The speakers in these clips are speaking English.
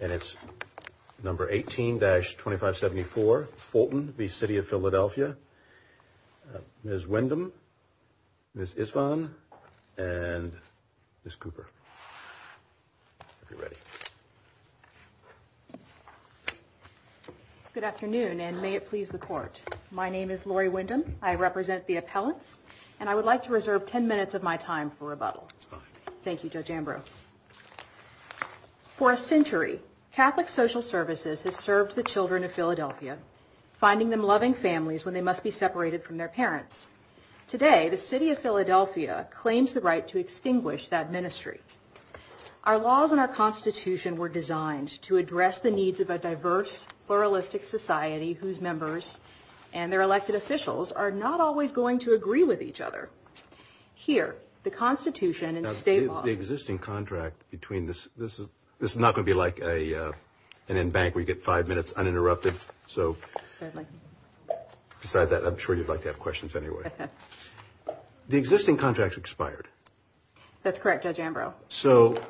and it's number 18-2574 Fulton v. City of Philadelphia. Ms. Windham, Ms. Isvan, and Ms. Cooper, if you're ready. Good afternoon, and may it please the court. My name is Lori Windham. I represent the appellants, and I would like to reserve ten minutes of my time for rebuttal. Thank you, Judge Ambro. For a century, Catholic Social Services has served the children of Philadelphia, finding them loving families when they must be separated from their parents. Today, the City of Philadelphia claims the right to extinguish that ministry. Our laws and our Constitution were designed to address the needs of a diverse, pluralistic society whose members and their elected officials are not always going to agree with each other. Here, the Constitution and state law... The existing contract between... This is not going to be like an embankment where you get five minutes uninterrupted, so besides that, I'm sure you'd like to have questions anyway. The existing contract's expired. That's correct, Judge Ambro. So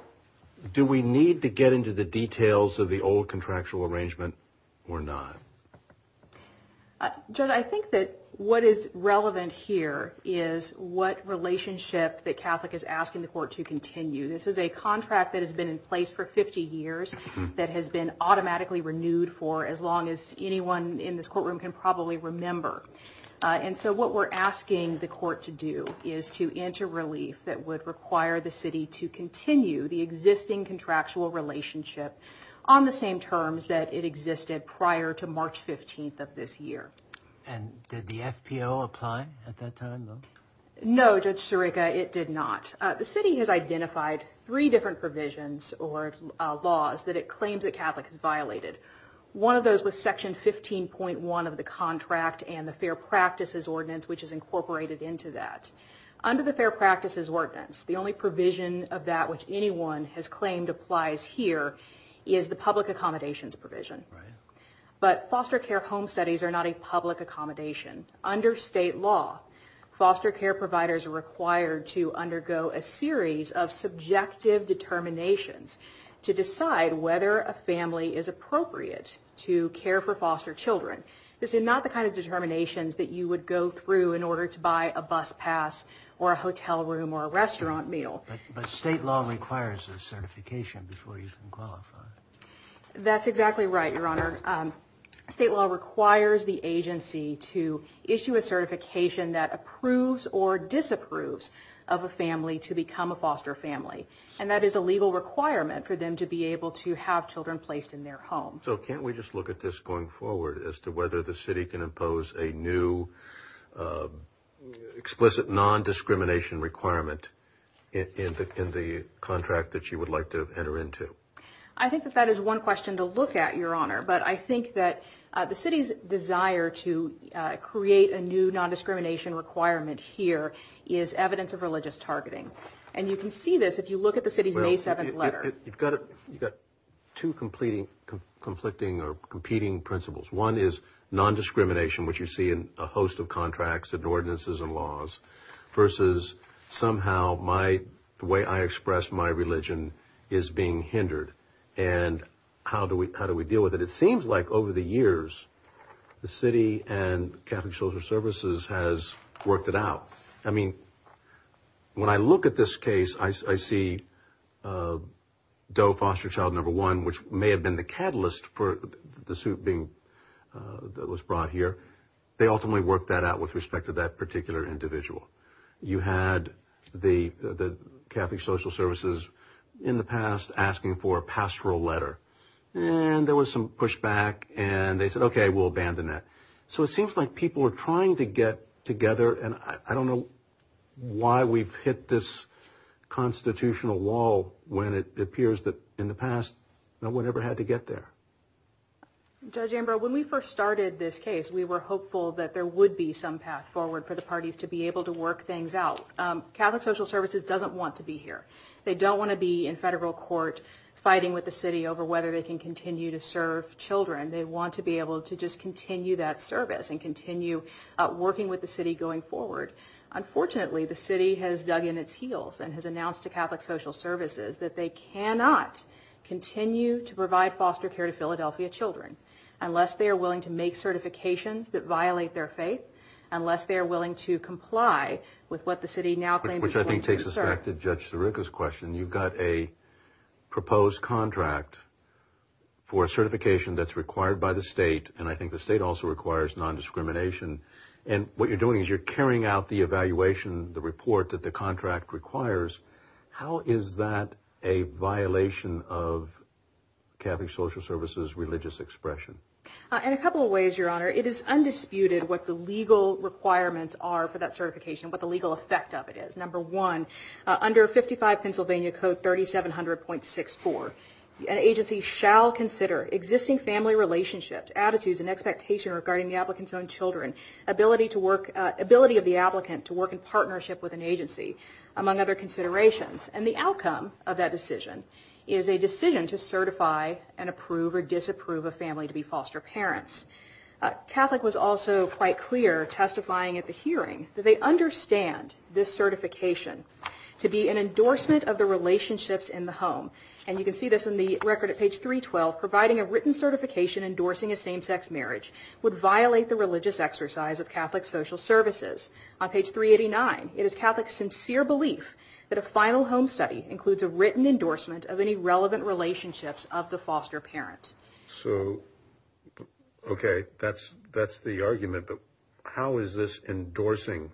do we need to get into the details of the old contractual arrangement or not? Judge, I think that what is relevant here is what relationship that Catholic is asking the court to continue. This is a contract that has been in place for 50 years that has been automatically renewed for as long as anyone in this courtroom can probably remember. And so what we're asking the court to do is to enter relief that would require the city to continue the existing contractual relationship on the same terms that it existed prior to March 15th of this year. And did the FPO apply at that time? No, Judge Sirica, it did not. The city has identified three different provisions or laws that it claims the Catholic has violated. One of those was Section 15.1 of the contract and the Fair Practices Ordinance, which is incorporated into that. Under the Fair Practices Ordinance, the only provision of that which anyone has claimed applies here is the public accommodations provision. But foster care home studies are not a public accommodation. Under state law, foster care providers are required to undergo a series of subjective determinations to decide whether a family is appropriate to care for foster children. This is not the kind of determinations that you would go through in order to buy a bus pass or a hotel room or a restaurant meal. But state law requires a certification before you can qualify. That's exactly right, Your Honor. State law requires the agency to issue a certification that approves or disapproves of a family to become a foster family. And that is a legal requirement for them to be able to have children placed in their home. So can't we just look at this going forward as to whether the city can impose a new explicit non-discrimination requirement in the contract that you would like to enter into? I think that that is one question to look at, Your Honor. But I think that the city's desire to create a new non-discrimination requirement here is evidence of religious targeting. And you can see this if you look at the city's May 7th letter. You've got two conflicting or competing principles. One is non-discrimination, which you see in a host of contracts and ordinances and laws, versus somehow the way I express my religion is being hindered. And how do we deal with it? It seems like over the years the city and Catholic Children's Services has worked it out. I mean, when I look at this case, I see Doe Foster Child Number 1, which may have been the catalyst for the suit that was brought here. They ultimately worked that out with respect to that particular individual. You had the Catholic Social Services in the past asking for a pastoral letter. And there was some pushback, and they said, okay, we'll abandon that. So it seems like people are trying to get together, and I don't know why we've hit this constitutional wall when it appears that in the past no one ever had to get there. Judge Amber, when we first started this case, we were hopeful that there would be some path forward for the parties to be able to work things out. Catholic Social Services doesn't want to be here. They don't want to be in federal court fighting with the city over whether they can continue to serve children. They want to be able to just continue that service and continue working with the city going forward. Unfortunately, the city has dug in its heels and has announced to Catholic Social Services that they cannot continue to provide foster care to Philadelphia children unless they are willing to make certifications that violate their faith, unless they are willing to comply with what the city now claims they can't serve. Which I think takes us back to Judge Sirica's question. You've got a proposed contract for a certification that's required by the state, and I think the state also requires nondiscrimination. And what you're doing is you're carrying out the evaluation, the report that the contract requires. How is that a violation of Catholic Social Services' religious expression? In a couple of ways, Your Honor. It is undisputed what the legal requirements are for that certification, what the legal effect of it is. Under 55 Pennsylvania Code 3700.64, an agency shall consider existing family relationships, attitudes, and expectations regarding the applicant's own children, ability of the applicant to work in partnership with an agency, among other considerations. And the outcome of that decision is a decision to certify and approve or disapprove a family to be foster parents. Catholic was also quite clear, testifying at the hearing, that they understand this certification to be an endorsement of the relationships in the home. And you can see this in the record at page 312, providing a written certification endorsing a same-sex marriage would violate the religious exercise of Catholic Social Services. On page 389, it is Catholic's sincere belief that a final home study includes a written endorsement of any relevant relationships of the foster parents. So, okay, that's the argument. How is this endorsing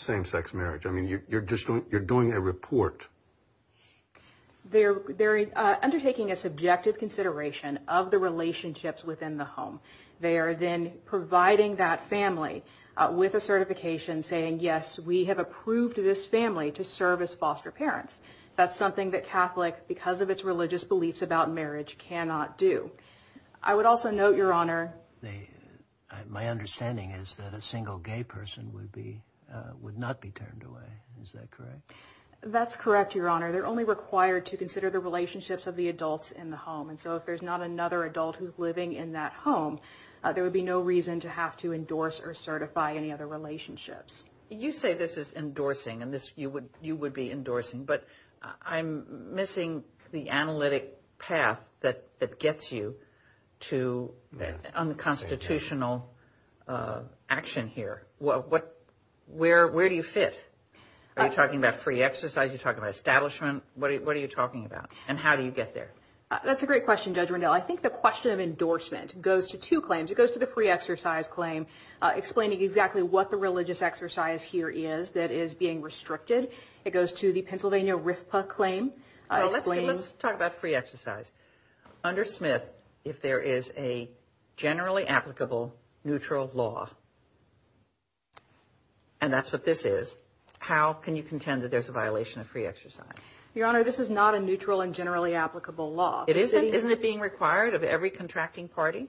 same-sex marriage? I mean, you're doing a report. They're undertaking a subjective consideration of the relationships within the home. They are then providing that family with a certification saying, yes, we have approved this family to serve as foster parents. That's something that Catholic, because of its religious beliefs about marriage, cannot do. I would also note, Your Honor, my understanding is that a single gay person would not be turned away. Is that correct? That's correct, Your Honor. They're only required to consider the relationships of the adults in the home. And so if there's not another adult who's living in that home, there would be no reason to have to endorse or certify any other relationships. You say this is endorsing, and you would be endorsing. But I'm missing the analytic path that gets you to unconstitutional action here. Where do you fit? Are you talking about free exercise? Are you talking about establishment? What are you talking about? And how do you get there? That's a great question, Judge Rendell. I think the question of endorsement goes to two claims. It goes to the free exercise claim, explaining exactly what the religious exercise here is that is being restricted. It goes to the Pennsylvania RFPA claim. Let's talk about free exercise. Under Smith, if there is a generally applicable neutral law, and that's what this is, how can you contend that there's a violation of free exercise? Your Honor, this is not a neutral and generally applicable law. Isn't it being required of every contracting party?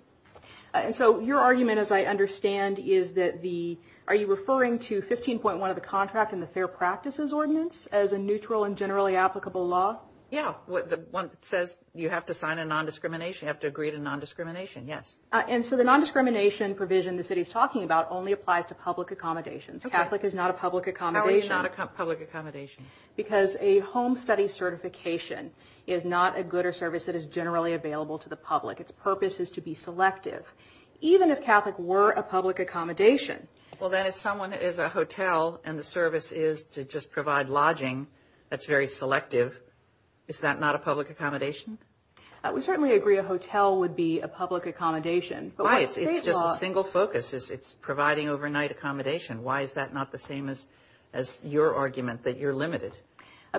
And so your argument, as I understand, are you referring to 15.1 of the contract in the Fair Practices Ordinance as a neutral and generally applicable law? Yes. The one that says you have to sign a nondiscrimination, you have to agree to nondiscrimination, yes. And so the nondiscrimination provision the city is talking about only applies to public accommodations. Catholic is not a public accommodation. Catholic is not a public accommodation. Because a home study certification is not a good or service that is generally available to the public. Its purpose is to be selective. Even if Catholic were a public accommodation. Well, then if someone is a hotel and the service is to just provide lodging that's very selective, is that not a public accommodation? We certainly agree a hotel would be a public accommodation. Right. It's just a single focus. It's providing overnight accommodation. Why is that not the same as your argument that you're limited?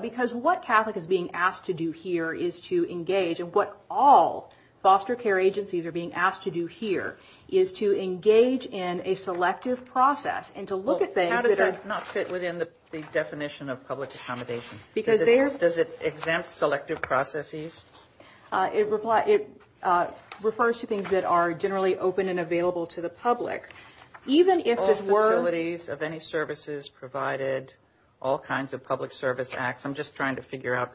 Because what Catholic is being asked to do here is to engage and what all foster care agencies are being asked to do here is to engage in a selective process and to look at things that are- How does that not fit within the definition of public accommodation? Because there- Does it exempt selective processes? It refers to things that are generally open and available to the public. Even if it were- All facilities of any services provided, all kinds of public service acts. I'm just trying to figure out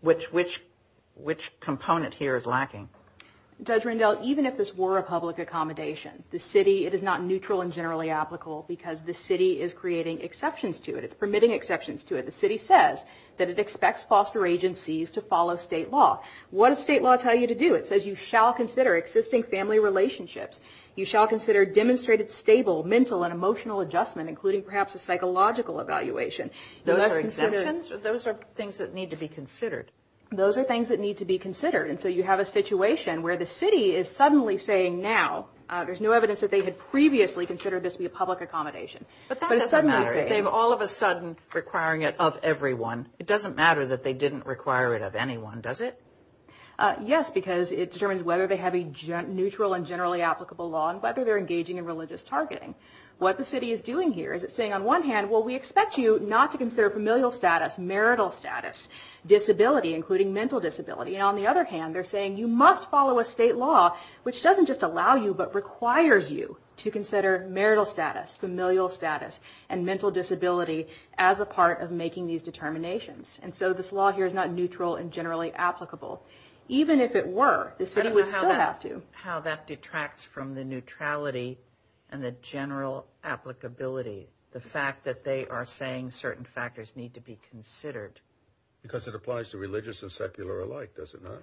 which component here is lacking. Judge Rendell, even if this were a public accommodation, the city- It is not neutral and generally applicable because the city is creating exceptions to it. It's permitting exceptions to it. The city says that it expects foster agencies to follow state law. What does state law tell you to do? It says you shall consider existing family relationships. You shall consider demonstrated stable mental and emotional adjustment, including perhaps a psychological evaluation. Those are exemptions? Those are things that need to be considered. Those are things that need to be considered, and so you have a situation where the city is suddenly saying now- There's no evidence that they had previously considered this to be a public accommodation. But that doesn't matter. But it suddenly- They're all of a sudden requiring it of everyone. It doesn't matter that they didn't require it of anyone, does it? Yes, because it determines whether they have a neutral and generally applicable law and whether they're engaging in religious targeting. What the city is doing here is it's saying on one hand, well, we expect you not to consider familial status, marital status, disability, including mental disability, and on the other hand, they're saying you must follow a state law, which doesn't just allow you but requires you to consider marital status, familial status, and mental disability as a part of making these determinations. And so this law here is not neutral and generally applicable. Even if it were, the city would still have to. I don't know how that detracts from the neutrality and the general applicability, the fact that they are saying certain factors need to be considered. Because it applies to religious and secular alike, does it not?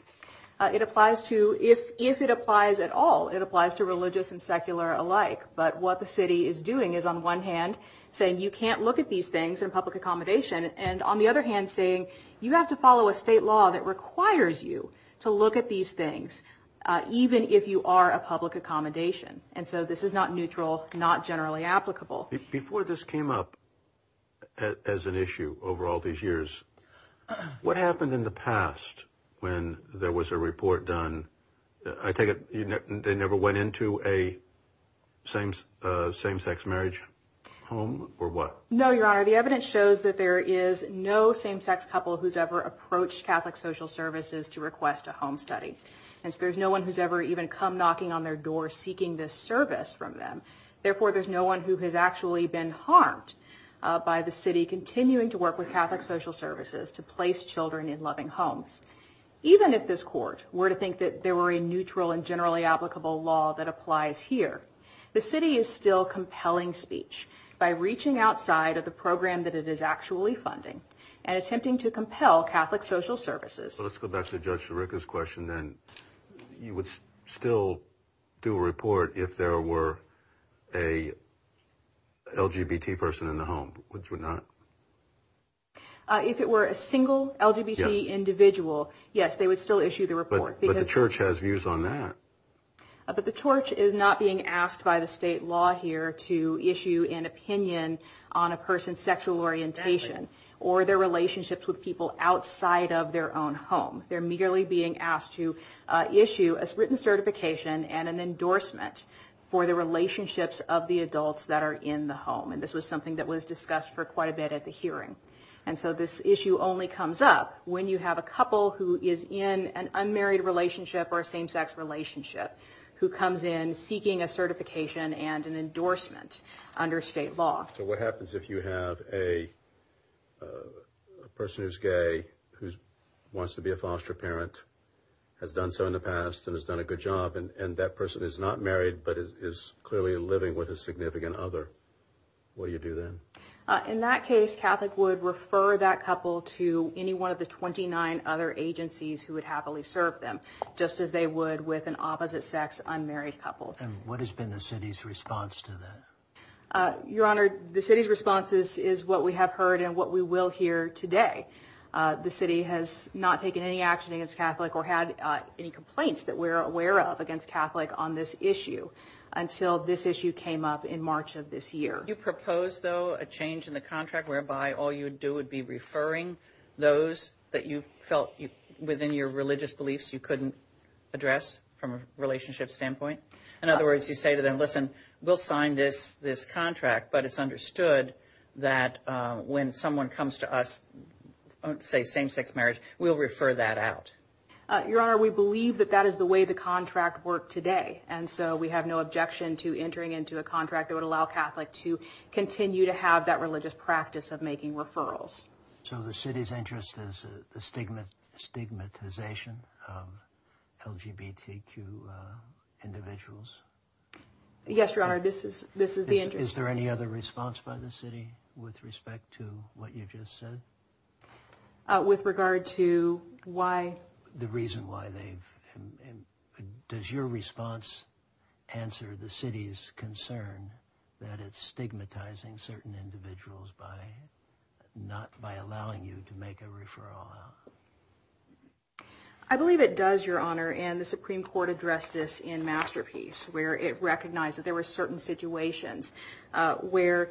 It applies to-if it applies at all, it applies to religious and secular alike. But what the city is doing is, on the one hand, saying you can't look at these things in public accommodation, and on the other hand saying you have to follow a state law that requires you to look at these things even if you are a public accommodation. And so this is not neutral, not generally applicable. Before this came up as an issue over all these years, what happened in the past when there was a report done? I take it they never went into a same-sex marriage home or what? No, Your Honor. The evidence shows that there is no same-sex couple who's ever approached Catholic Social Services to request a home study. And there's no one who's ever even come knocking on their door seeking this service from them. Therefore, there's no one who has actually been harmed by the city continuing to work with Catholic Social Services to place children in loving homes. Even if this court were to think that there were a neutral and generally applicable law that applies here, the city is still compelling speech by reaching outside of the program that it is actually funding and attempting to compel Catholic Social Services. Let's go back to Judge Sharika's question, then you would still do a report if there were a LGBT person in the home, would you not? If it were a single LGBT individual, yes, they would still issue the report. But the Church has views on that. But the Church is not being asked by the state law here to issue an opinion on a person's sexual orientation or their relationships with people outside of their own home. They're merely being asked to issue a written certification and an endorsement for the relationships of the adults that are in the home. And this was something that was discussed for quite a bit at the hearing. And so this issue only comes up when you have a couple who is in an unmarried relationship or a same-sex relationship who comes in seeking a certification and an endorsement under state law. So what happens if you have a person who's gay who wants to be a foster parent, has done so in the past and has done a good job, and that person is not married but is clearly living with a significant other? What do you do then? In that case, Catholic would refer that couple to any one of the 29 other agencies who would happily serve them, just as they would with an opposite-sex, unmarried couple. And what has been the city's response to that? Your Honor, the city's response is what we have heard and what we will hear today. The city has not taken any action against Catholic or had any complaints that we're aware of against Catholic on this issue until this issue came up in March of this year. Do you propose, though, a change in the contract whereby all you would do would be referring those that you felt within your religious beliefs you couldn't address from a relationship standpoint? In other words, you say to them, listen, we'll sign this contract, but it's understood that when someone comes to us, let's say same-sex marriage, we'll refer that out. Your Honor, we believe that that is the way the contract worked today, and so we have no objection to entering into a contract that would allow Catholic to continue to have that religious practice of making referrals. So the city's interest is the stigmatization of LGBTQ individuals? Yes, Your Honor, this is the interest. Is there any other response by the city with respect to what you just said? With regard to why? The reason why they've – does your response answer the city's concern that it's stigmatizing certain individuals by not – by allowing you to make a referral? I believe it does, Your Honor, and the Supreme Court addressed this in Masterpiece, where it recognized that there were certain situations where,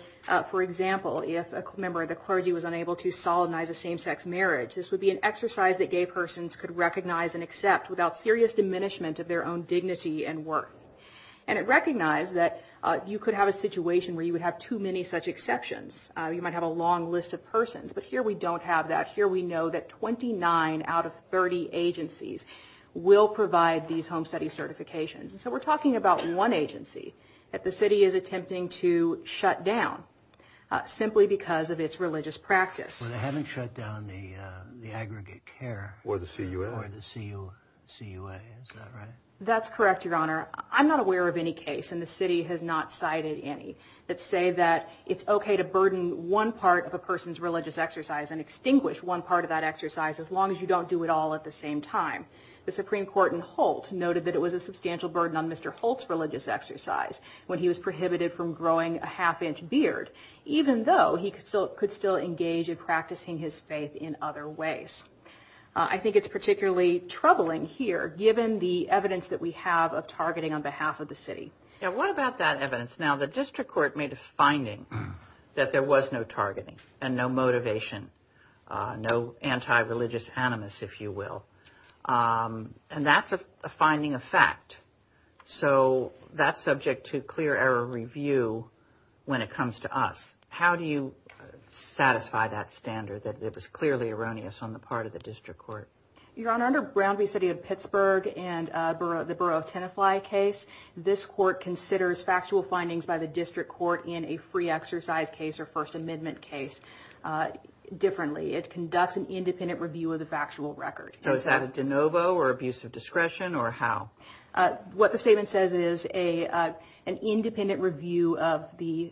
for example, if a member of the clergy was unable to solidnize a same-sex marriage, this would be an exercise that gay persons could recognize and accept without serious diminishment of their own dignity and worth. And it recognized that you could have a situation where you would have too many such exceptions. You might have a long list of persons, but here we don't have that. Here we know that 29 out of 30 agencies will provide these home study certifications. So we're talking about one agency that the city is attempting to shut down simply because of its religious practice. Well, they haven't shut down the aggregate care. Or the CUA. Or the CUA, is that right? That's correct, Your Honor. I'm not aware of any case, and the city has not cited any, that say that it's okay to burden one part of a person's religious exercise and extinguish one part of that exercise as long as you don't do it all at the same time. The Supreme Court in Holt noted that it was a substantial burden on Mr. Holt's religious exercise when he was prohibited from growing a half-inch beard, even though he could still engage in practicing his faith in other ways. I think it's particularly troubling here, given the evidence that we have of targeting on behalf of the city. Now, what about that evidence? Now, the district court made a finding that there was no targeting and no motivation, no anti-religious animus, if you will. And that's a finding of fact. So that's subject to clear error review when it comes to us. How do you satisfy that standard, that it was clearly erroneous on the part of the district court? Your Honor, under Brown v. City of Pittsburgh and the Borough of Tennessee case, this court considers factual findings by the district court in a free exercise case or First Amendment case differently. It conducts an independent review of the factual record. So is that a de novo or abuse of discretion, or how? What the statement says is an independent review of the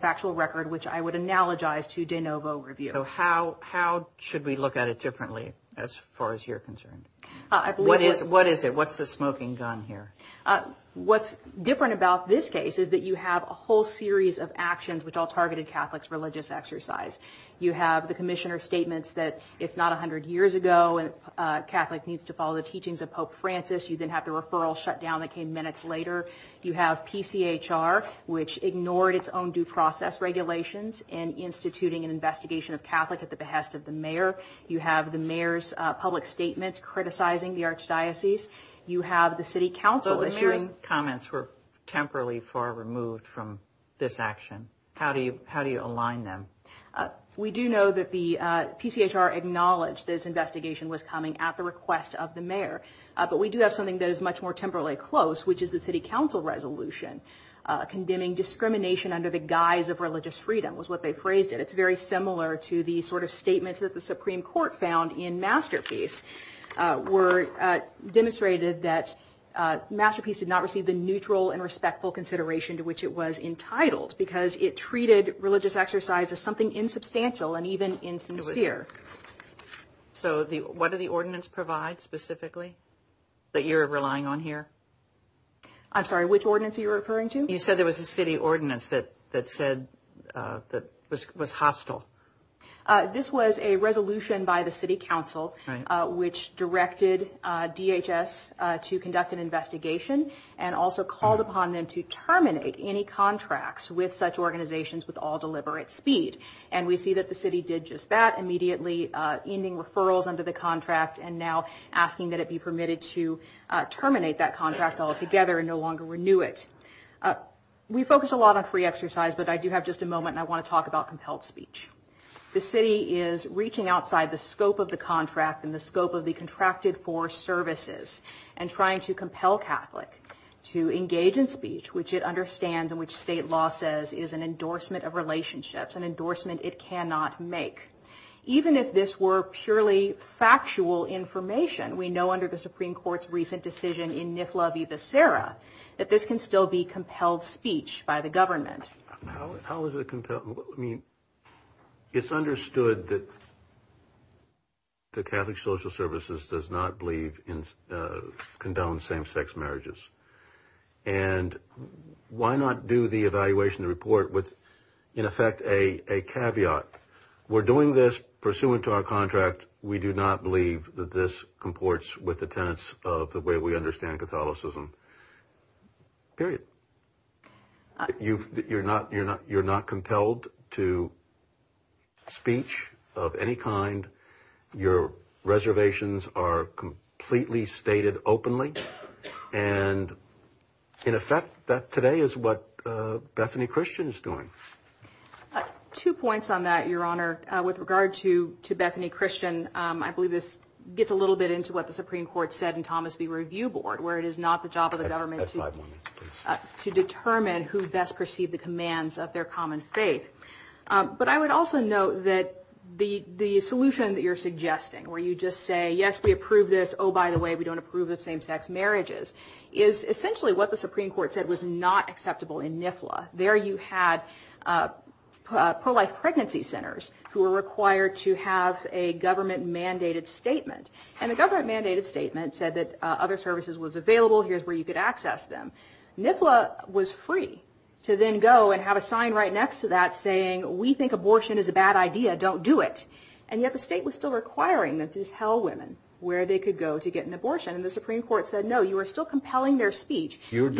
factual record, which I would analogize to de novo review. So how should we look at it differently as far as you're concerned? What is it? What's the smoking gun here? What's different about this case is that you have a whole series of actions which all targeted Catholics' religious exercise. You have the commissioner's statements that it's not 100 years ago and a Catholic needs to follow the teachings of Pope Francis. You then have the referral shutdown that came minutes later. You have PCHR, which ignored its own due process regulations in instituting an investigation of Catholics at the behest of the mayor. You have the mayor's public statements criticizing the archdiocese. You have the city council. So the mayor's comments were temporarily far removed from this action. How do you align them? We do know that the PCHR acknowledged this investigation was coming at the request of the mayor. But we do have something that is much more temporarily close, which is the city council resolution condemning discrimination under the guise of religious freedom was what they phrased it. It's very similar to the sort of statements that the Supreme Court found in Masterpiece demonstrated that Masterpiece did not receive the neutral and respectful consideration to which it was entitled because it treated religious exercise as something insubstantial and even insincere. So what did the ordinance provide specifically that you're relying on here? I'm sorry, which ordinance are you referring to? You said there was a city ordinance that was hostile. This was a resolution by the city council which directed DHS to conduct an investigation and also called upon them to terminate any contracts with such organizations with all deliberate speed. And we see that the city did just that immediately, ending referrals under the contract and now asking that it be permitted to terminate that contract altogether and no longer renew it. We focus a lot on free exercise, but I do have just a moment and I want to talk about compelled speech. The city is reaching outside the scope of the contract and the scope of the contracted force services and trying to compel Catholic to engage in speech which it understands and which state law says is an endorsement of relationships, an endorsement it cannot make. Even if this were purely factual information, we know under the Supreme Court's recent decision in Nifla v. Becerra that this can still be compelled speech by the government. How is it compelled? It's understood that the Catholic Social Services does not believe in condoned same-sex marriages. And why not do the evaluation report with, in effect, a caveat? We're doing this pursuant to our contract. We do not believe that this comports with the tenets of the way we understand Catholicism, period. You're not compelled to speech of any kind. Your reservations are completely stated openly. And, in effect, that today is what Bethany Christian is doing. Two points on that, Your Honor. With regard to Bethany Christian, I believe this gets a little bit into what the Supreme Court said in Thomas v. Review Board, where it is not the job of the government to determine who best perceived the commands of their common faith. But I would also note that the solution that you're suggesting, where you just say, yes, we approve this, oh, by the way, we don't approve of same-sex marriages, is essentially what the Supreme Court said was not acceptable in Nifla. There you had pro-life pregnancy centers who were required to have a government-mandated statement. And the government-mandated statement said that other services was available, here's where you could access them. Nifla was free to then go and have a sign right next to that saying, we think abortion is a bad idea, don't do it. And yet the state was still requiring that these hell women, where they could go to get an abortion. And the Supreme Court said, no, you are still compelling their speech. Here it's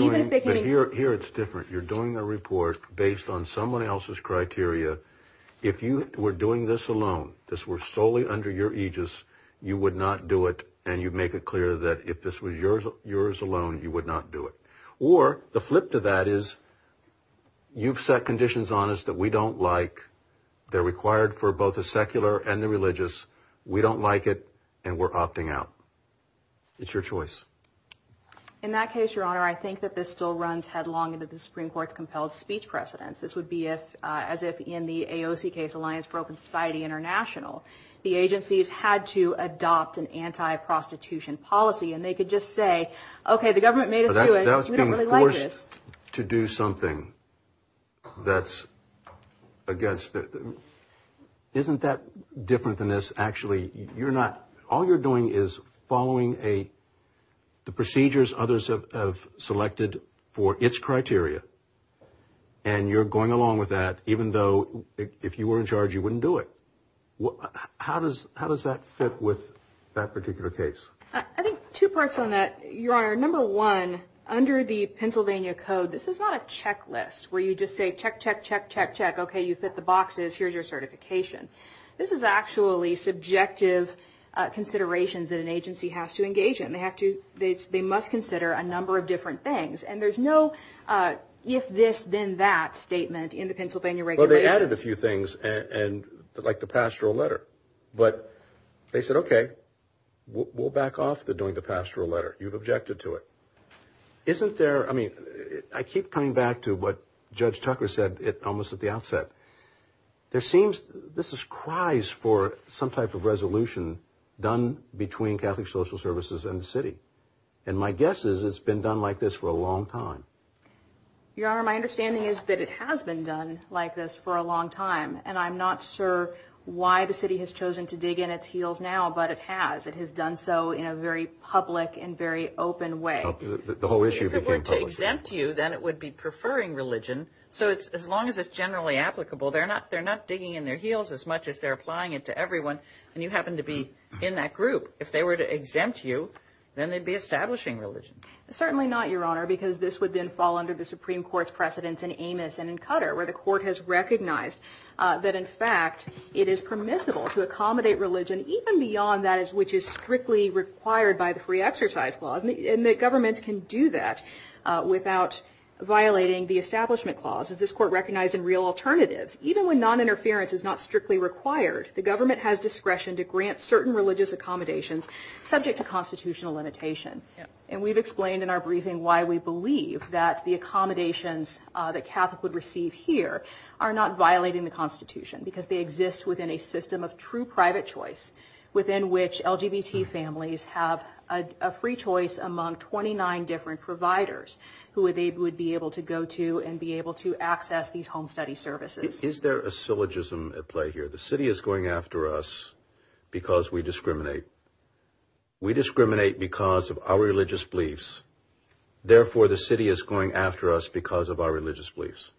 different. You're doing a report based on someone else's criteria. If you were doing this alone, this was solely under your aegis, you would not do it, and you make it clear that if this was yours alone, you would not do it. Or the flip to that is you've set conditions on us that we don't like, they're required for both the secular and the religious, we don't like it, and we're opting out. It's your choice. In that case, Your Honor, I think that this still runs headlong into the Supreme Court's compelled speech precedence. This would be as if in the AOC case, Alliance for Open Society International, the agencies had to adopt an anti-prostitution policy, and they could just say, okay, the government made us do it. We don't really like this. That's being forced to do something that's against it. Isn't that different than this? Actually, all you're doing is following the procedures others have selected for its criteria, and you're going along with that, even though if you were in charge, you wouldn't do it. How does that fit with that particular case? I think two parts on that. Your Honor, number one, under the Pennsylvania Code, this is not a checklist where you just say, check, check, check, check, check, okay, you fit the boxes, here's your certification. This is actually subjective considerations that an agency has to engage in. They must consider a number of different things, and there's no if this, then that statement in the Pennsylvania regulation. Well, they added a few things, like the pastoral letter. But they said, okay, we'll back off from doing the pastoral letter. You've objected to it. I keep coming back to what Judge Tucker said almost at the outset. This is cries for some type of resolution done between Catholic Social Services and the city, and my guess is it's been done like this for a long time. Your Honor, my understanding is that it has been done like this for a long time, and I'm not sure why the city has chosen to dig in its heels now, but it has. It has done so in a very public and very open way. If it were to exempt you, then it would be preferring religion. So as long as it's generally applicable, they're not digging in their heels as much as they're applying it to everyone, and you happen to be in that group. If they were to exempt you, then they'd be establishing religion. Certainly not, Your Honor, because this would then fall under the Supreme Court's precedence in Amos and in Qatar, where the court has recognized that, in fact, it is permissible to accommodate religion even beyond that which is strictly required by the Free Exercise Clause, and the government can do that without violating the Establishment Clause, as this court recognized in Real Alternatives. Even when noninterference is not strictly required, the government has discretion to grant certain religious accommodations subject to constitutional limitation, and we've explained in our briefing why we believe that the accommodations that Catholics would receive here are not violating the Constitution, because they exist within a system of true private choice within which LGBT families have a free choice among 29 different providers who they would be able to go to and be able to access these home study services. Is there a syllogism at play here? The city is going after us because we discriminate. We discriminate because of our religious beliefs. Therefore, the city is going after us because of our religious beliefs.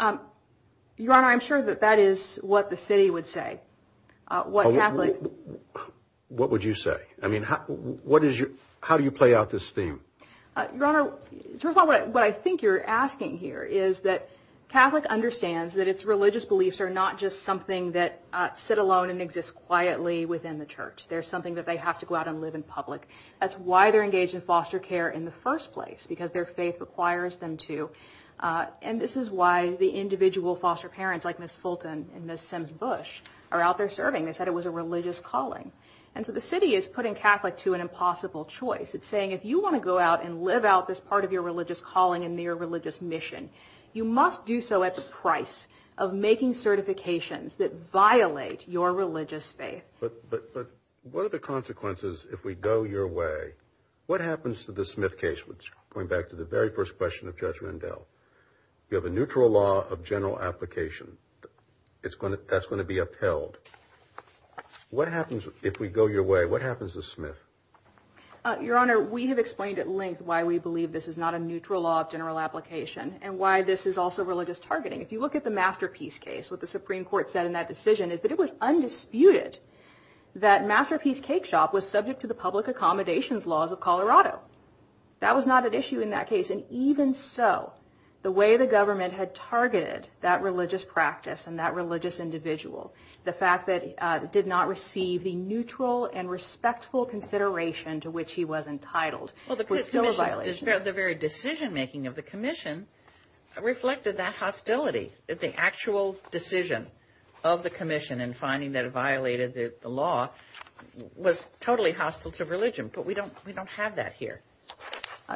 Your Honor, I'm sure that that is what the city would say. What would you say? I mean, how do you play out this theme? Your Honor, first of all, what I think you're asking here is that Catholic understands that its religious beliefs are not just something that sit alone and exist quietly within the church. They're something that they have to go out and live in public. That's why they're engaged in foster care in the first place, because their faith requires them to, and this is why the individual foster parents like Ms. Fulton and Ms. Sims-Bush are out there serving. They said it was a religious calling. And so the city is putting Catholics to an impossible choice. It's saying if you want to go out and live out this part of your religious calling and your religious mission, you must do so at the price of making certifications that violate your religious faith. But what are the consequences if we go your way? What happens to the Smith case, going back to the very first question of Judge Rendell? You have a neutral law of general application. That's going to be upheld. What happens if we go your way? What happens to Smith? Your Honor, we have explained at length why we believe this is not a neutral law of general application and why this is also religious targeting. If you look at the Masterpiece case, what the Supreme Court said in that decision is that it was undisputed that Masterpiece Cake Shop was subject to the public accommodations laws of Colorado. That was not an issue in that case, and even so, the way the government had targeted that religious practice and that religious individual, the fact that it did not receive the neutral and respectful consideration to which he was entitled was still a violation. The very decision-making of the commission reflected that hostility. The actual decision of the commission in finding that it violated the law was totally hostile to religion, but we don't have that here.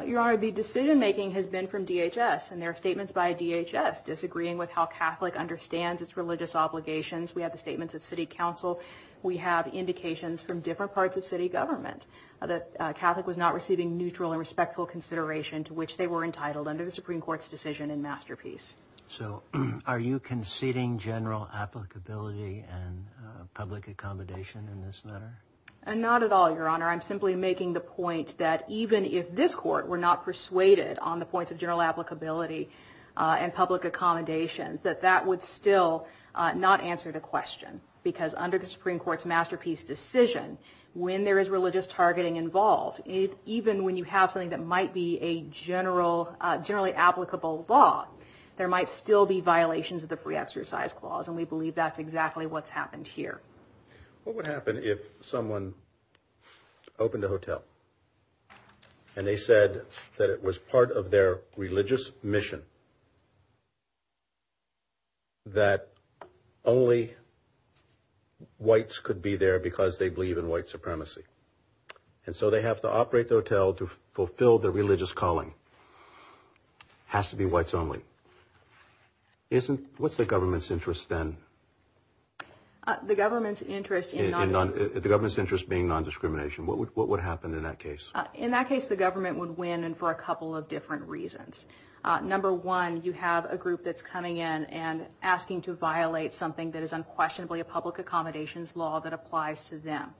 Your Honor, the decision-making has been from DHS, and there are statements by DHS disagreeing with how Catholic understands its religious obligations. We have the statements of city council. We have indications from different parts of city government that Catholic was not receiving neutral and respectful consideration to which they were entitled under the Supreme Court's decision in Masterpiece. So are you conceding general applicability and public accommodation in this matter? Not at all, Your Honor. I'm simply making the point that even if this court were not persuaded on the points of general applicability and public accommodation, that that would still not answer the question, because under the Supreme Court's Masterpiece decision, when there is religious targeting involved, even when you have something that might be a generally applicable law, there might still be violations of the Free Exercise Clause, and we believe that's exactly what's happened here. What would happen if someone opened a hotel and they said that it was part of their religious mission that only whites could be there because they believe in white supremacy, and so they have to operate the hotel to fulfill their religious calling? It has to be whites only. What's the government's interest then? The government's interest in non-discrimination. What would happen in that case? In that case, the government would win for a couple of different reasons. Number one, you have a group that's coming in and asking to violate something that is unquestionably a public accommodations law that applies to them.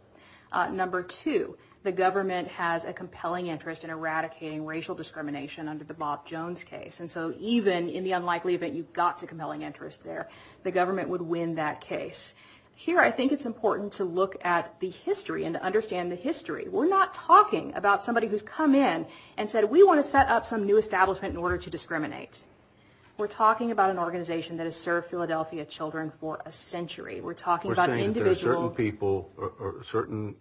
Number two, the government has a compelling interest in eradicating racial discrimination under the Bob Jones case, and so even in the unlikely event you've got the compelling interest there, the government would win that case. Here, I think it's important to look at the history and to understand the history. We're not talking about somebody who's come in and said, we want to set up some new establishment in order to discriminate. We're talking about an organization that has served Philadelphia children for a century. We're talking about an individual... We're saying that there are certain people or certain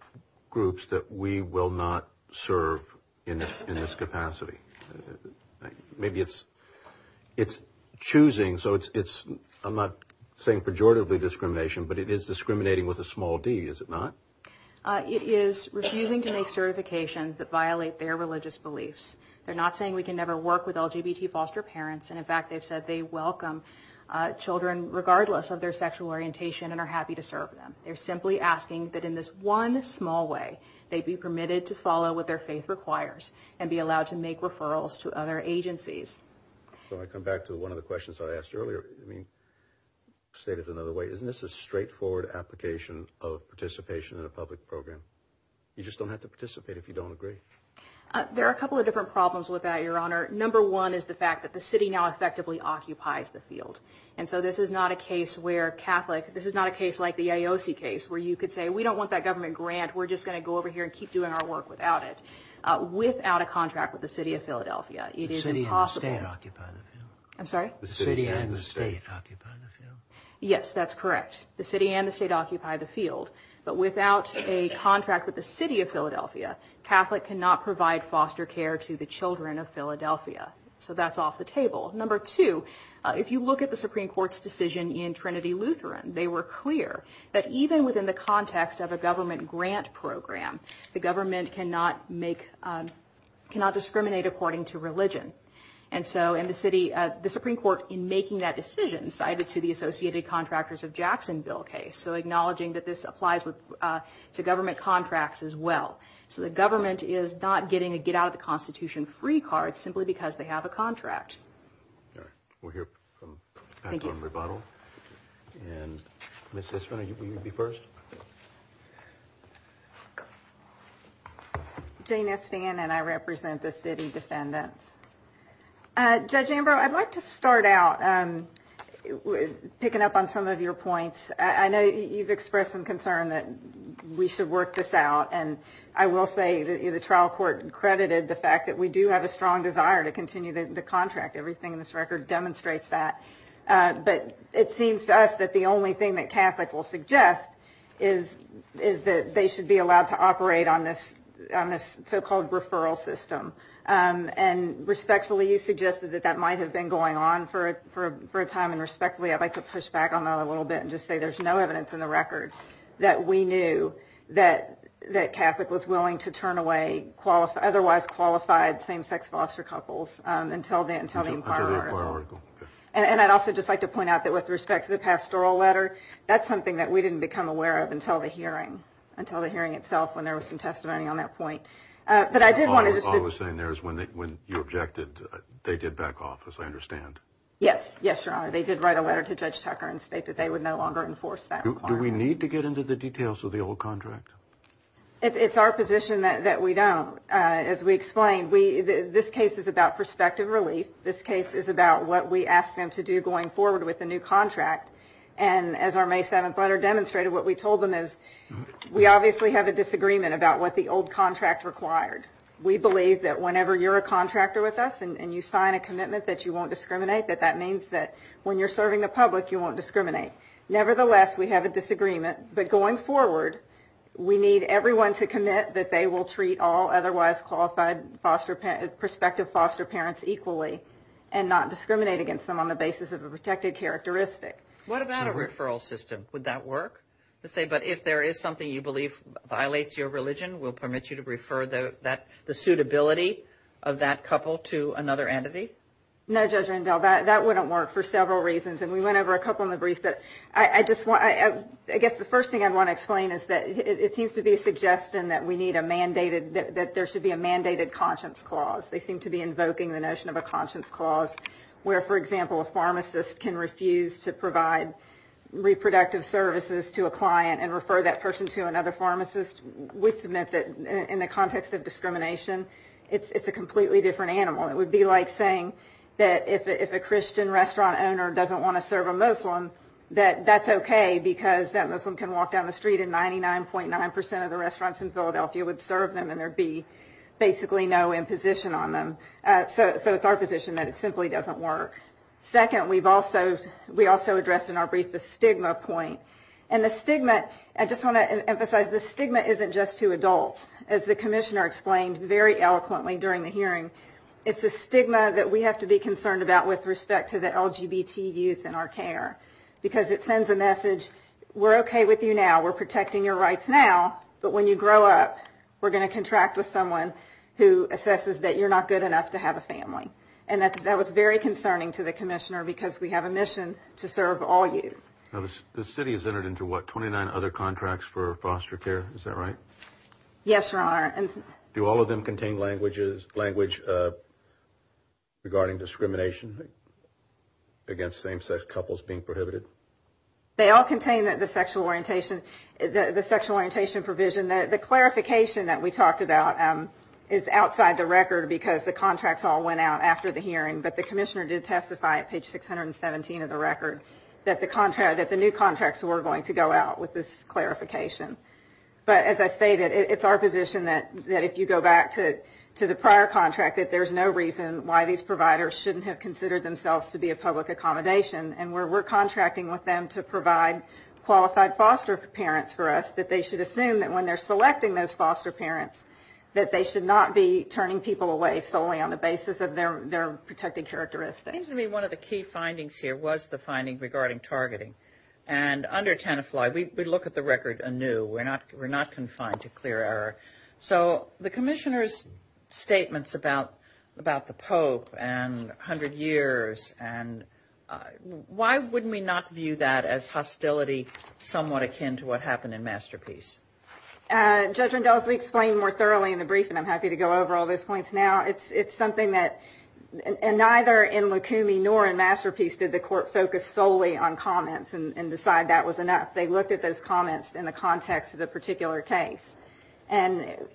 groups that we will not serve in this capacity. Maybe it's choosing, so it's... I'm not saying pejoratively discrimination, but it is discriminating with a small d, is it not? It is refusing to make certifications that violate their religious beliefs. They're not saying we can never work with LGBT foster parents, and in fact they've said they welcome children regardless of their sexual orientation and are happy to serve them. They're simply asking that in this one small way they be permitted to follow what their faith requires and be allowed to make referrals to other agencies. So I come back to one of the questions I asked earlier. State it another way. Isn't this a straightforward application of participation in a public program? You just don't have to participate if you don't agree. There are a couple of different problems with that, Your Honor. Number one is the fact that the city now effectively occupies the field. And so this is not a case where Catholics... This is not a case like the AOC case where you could say, we don't want that government grant. We're just going to go over here and keep doing our work without it, without a contract with the city of Philadelphia. The city and the state occupy the field. I'm sorry? The city and the state occupy the field. Yes, that's correct. The city and the state occupy the field. But without a contract with the city of Philadelphia, Catholics cannot provide foster care to the children of Philadelphia. So that's off the table. Number two, if you look at the Supreme Court's decision in Trinity Lutheran, they were clear that even within the context of a government grant program, the government cannot discriminate according to religion. And so in the city, the Supreme Court, in making that decision, cited to the Associated Contractors of Jacksonville case, so acknowledging that this applies to government contracts as well. So the government is not getting a get-out-of-the-Constitution-free card simply because they have a contract. All right. We'll hear back from rebuttal. And Ms. Sissman, you would be first? Jane S. Vann and I represent the city defendants. Judge Ambrose, I'd like to start out picking up on some of your points. I know you've expressed some concern that we should work this out. And I will say the trial court credited the fact that we do have a strong desire to continue the contract. Everything in this record demonstrates that. But it seems to us that the only thing that Catholic will suggest is that they should be allowed to operate on this so-called referral system. And respectfully, you suggested that that might have been going on for a time. And respectfully, I'd like to push back on that a little bit and just say there's no evidence in the record that we knew that Catholic was willing to turn away otherwise qualified same-sex foster couples until the inquiry. And I'd also just like to point out that with respect to the pastoral letter, that's something that we didn't become aware of until the hearing, until the hearing itself when there was some testimony on that point. All I'm saying there is when you objected, they did back off, as I understand. Yes, Your Honor. They did write a letter to Judge Tucker and state that they would no longer enforce that. Do we need to get into the details of the old contract? It's our position that we don't. As we explained, this case is about prospective relief. This case is about what we ask them to do going forward with the new contract. And as our May 7th letter demonstrated, what we told them is we obviously have a disagreement about what the old contract required. We believe that whenever you're a contractor with us and you sign a commitment that you won't discriminate, that that means that when you're serving the public you won't discriminate. Nevertheless, we have a disagreement. But going forward, we need everyone to commit that they will treat all otherwise qualified prospective foster parents equally and not discriminate against them on the What about a referral system? Would that work? But if there is something you believe violates your religion, will it permit you to refer the suitability of that couple to another entity? No, Judge Rendell, that wouldn't work for several reasons. And we went over a couple in the brief. I guess the first thing I want to explain is that it seems to be suggesting that there should be a mandated conscience clause. They seem to be invoking the notion of a conscience clause where, for example, a pharmacist can refuse to provide reproductive services to a client and refer that person to another pharmacist, which meant that in the context of discrimination, it's a completely different animal. It would be like saying that if a Christian restaurant owner doesn't want to serve a Muslim, that that's okay because that Muslim can walk down the street and 99.9% of the restaurants in Philadelphia would serve them and there would be basically no imposition on them. So it's our position that it simply doesn't work. Second, we also addressed in our brief the stigma point. And the stigma, I just want to emphasize, the stigma isn't just to adults. As the commissioner explained very eloquently during the hearing, it's a stigma that we have to be concerned about with respect to the LGBT youth in our care because it sends a message, we're okay with you now, we're protecting your rights now, but when you grow up, we're going to contract with someone who assesses that you're not good enough to have a family. And that was very concerning to the commissioner because we have a mission to serve all youth. The city has entered into, what, 29 other contracts for foster care, is that right? Yes, Your Honor. Do all of them contain language regarding discrimination against same-sex couples being prohibited? They all contain the sexual orientation provision. The clarification that we talked about is outside the record because the contracts all went out after the hearing. But the commissioner did testify at page 617 of the record that the new contracts were going to go out with this clarification. But as I stated, it's our position that if you go back to the prior contract, that there's no reason why these providers shouldn't have considered themselves to be a public accommodation. And we're contracting with them to provide qualified foster parents for us, that they should assume that when they're selecting those foster parents, that they should not be turning people away solely on the basis of their protected characteristics. It seems to me one of the key findings here was the finding regarding targeting. And under Tenafly, we look at the record anew. We're not confined to clear error. So the commissioner's statements about the Pope and 100 years, why wouldn't we not view that as hostility somewhat akin to what happened in Masterpiece? Judge Rendell, as we explained more thoroughly in the briefing, I'm happy to go over all those points now, it's something that neither in Lukumi nor in Masterpiece did the court focus solely on comments and decide that was enough. They looked at those comments in the context of the particular case. All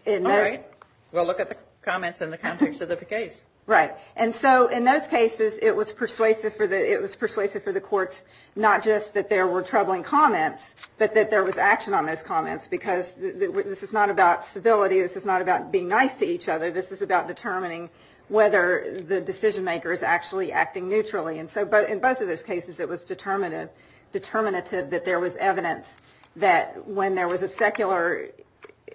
right. We'll look at the comments in the context of the case. Right. And so in those cases, it was persuasive for the courts, not just that there were troubling comments, but that there was action on those comments because this is not about civility, this is not about being nice to each other, this is about determining whether the decision maker is actually acting neutrally. And so in both of those cases, it was determinative that there was evidence that when there was a secular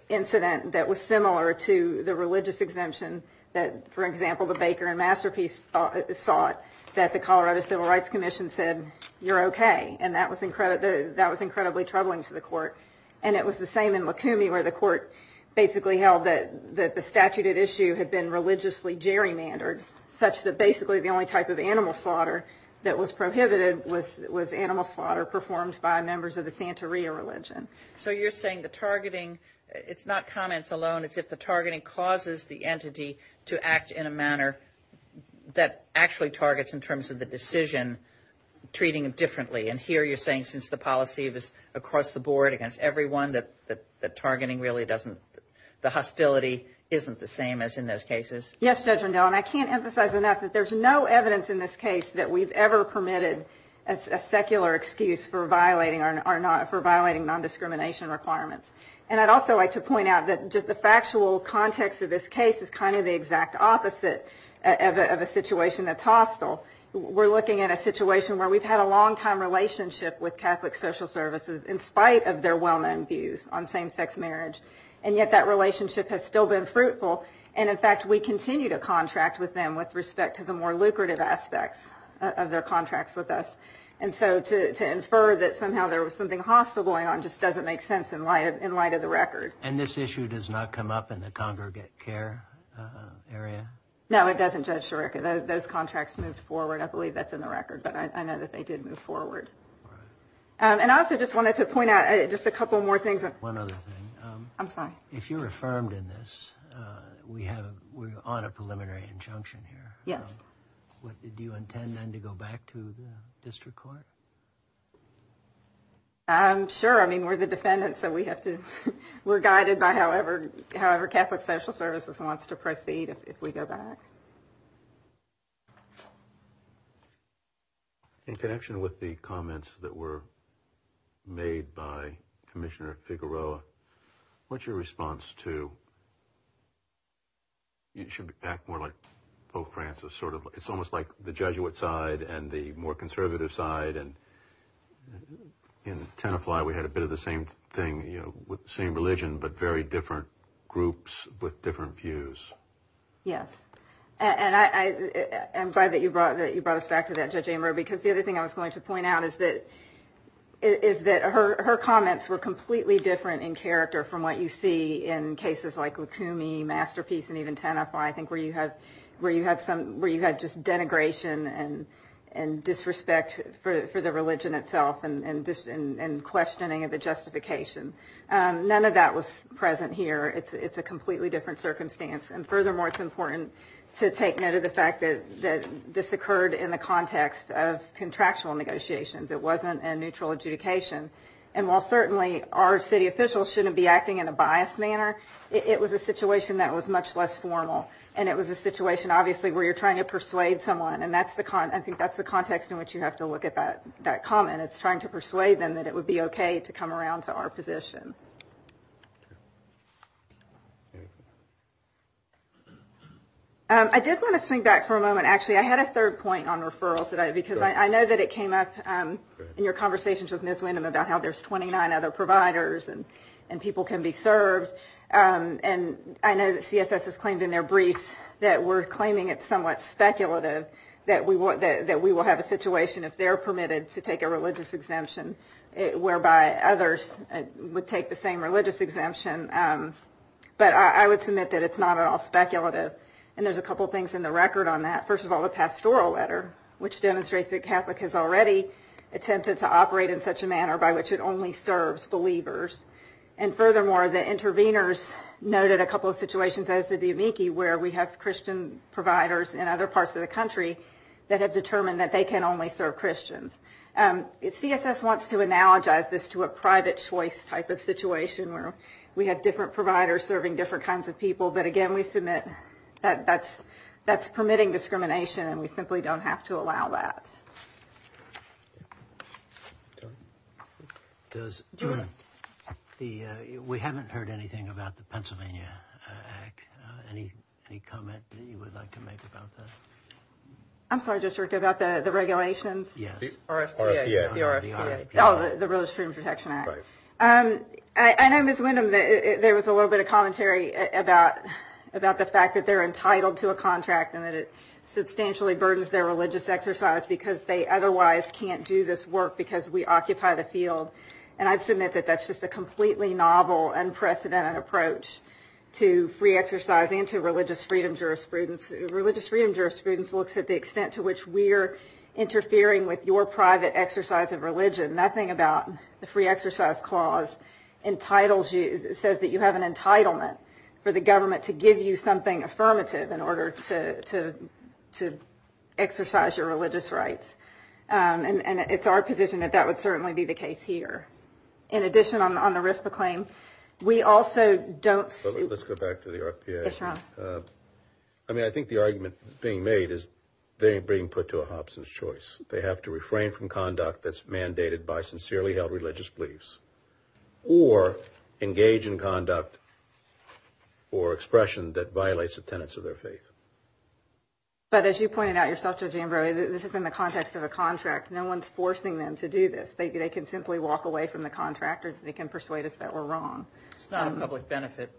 incident that was similar to the religious exemption that, for example, the Baker in Masterpiece thought that the Colorado Civil Rights Commission said, you're okay. And that was incredibly troubling to the court. And it was the same in Lukumi where the court basically held that the statute of issue had been religiously gerrymandered, such that basically the only type of animal slaughter that was prohibited was animal slaughter performed by members of the Santeria religion. So you're saying the targeting, it's not comments alone, it's if the targeting causes the entity to act in a manner that actually targets in terms of the decision, treating it differently. And here you're saying since the policy is across the board against everyone that the targeting really doesn't, the hostility isn't the same as in those cases? Yes, Judge Rendell, and I can't emphasize enough that there's no evidence in this case that we've ever permitted a secular excuse for violating non-discrimination requirements. And I'd also like to point out that just the factual context of this case is kind of the exact opposite of a situation that's hostile. We're looking at a situation where we've had a long-time relationship with Catholic social services in spite of their well-known views on same-sex marriage. And yet that relationship has still been fruitful. And, in fact, we continue to contract with them with respect to the more lucrative aspects of their contracts with us. And so to infer that somehow there was something hostile going on just doesn't make sense in light of the record. And this issue does not come up in the congregate care area? No, it doesn't, Judge Shurica. Those contracts moved forward. I believe that's in the record, but I know that they did move forward. And I also just wanted to point out just a couple more things. One other thing. I'm sorry. If you're affirmed in this, we're on a preliminary injunction here. Yes. Do you intend then to go back to the district court? Sure. I mean, we're the defendants, so we have to – we're guided by however Catholic social services wants to proceed if we go back. In connection with the comments that were made by Commissioner Figueroa, what's your response to – you should act more like Pope Francis, sort of. It's almost like the Jesuit side and the more conservative side and in Tenafly we had a bit of the same thing, the same religion, but very different groups with different views. Yes. And I'm glad that you brought us back to that, Judge Ambrose, because the other thing I was going to point out is that her comments were completely different in character from what you see in cases like Lukumi, Masterpiece, and even Tenafly. I think where you have some – where you have just denigration and disrespect for the religion itself and questioning of the justification. None of that was present here. It's a completely different circumstance. And furthermore, it's important to take note of the fact that this occurred in the context of contractual negotiations. It wasn't a neutral adjudication. And while certainly our city officials shouldn't be acting in a biased manner, it was a situation that was much less formal, and it was a situation, obviously, where you're trying to persuade someone, and I think that's the context in which you have to look at that comment. It's trying to persuade them that it would be okay to come around to our position. I did want to swing back for a moment. Actually, I had a third point on referrals today because I know that it came up in your conversations with Ms. Windham about how there's 29 other providers and people can be served. And I know that CSS has claimed in their brief that we're claiming it's somewhat speculative that we will have a situation if they're permitted to take a religious exemption whereby others would take the same religious exemption. But I would submit that it's not at all speculative. And there's a couple things in the record on that. First of all, the pastoral letter, which demonstrates that Catholic has already attempted to operate in such a manner by which it only serves believers. And furthermore, the interveners noted a couple of situations as to the amici where we have Christian providers in other parts of the country that have determined that they can only serve Christians. CSS wants to analogize this to a private choice type of situation where we have different providers serving different kinds of people. But, again, we submit that that's permitting discrimination and we simply don't have to allow that. We haven't heard anything about the Pennsylvania Act. Any comment that you would like to make about that? I'm sorry, District, about the regulations? Yes. The RFPA. The RFPA. Oh, the Religious Freedom Protection Act. I know, Ms. Windham, that there was a little bit of commentary about the fact that they're entitled to a contract and that it substantially burdens their religious exercise because they otherwise can't do this work because we occupy the field. And I submit that that's just a completely novel, unprecedented approach to free exercise and to religious freedom jurisprudence. Religious freedom jurisprudence looks at the extent to which we're interfering with your private exercise of religion. Nothing about the free exercise clause entitles you, says that you have an entitlement for the government to give you something in order to exercise your religious rights. And it's our position that that would certainly be the case here. In addition, on the RISPA claim, we also don't... Let's go back to the RFPA. Yes, sir. I mean, I think the argument being made is they're being put to a Hobson's choice. They have to refrain from conduct that's mandated by sincerely held religious beliefs or engage in conduct or expression that violates the tenets of their faith. But as you pointed out yourself, Judge Ambrose, this is in the context of a contract. No one's forcing them to do this. They can simply walk away from the contract or they can persuade us that we're wrong. It's not a public benefit.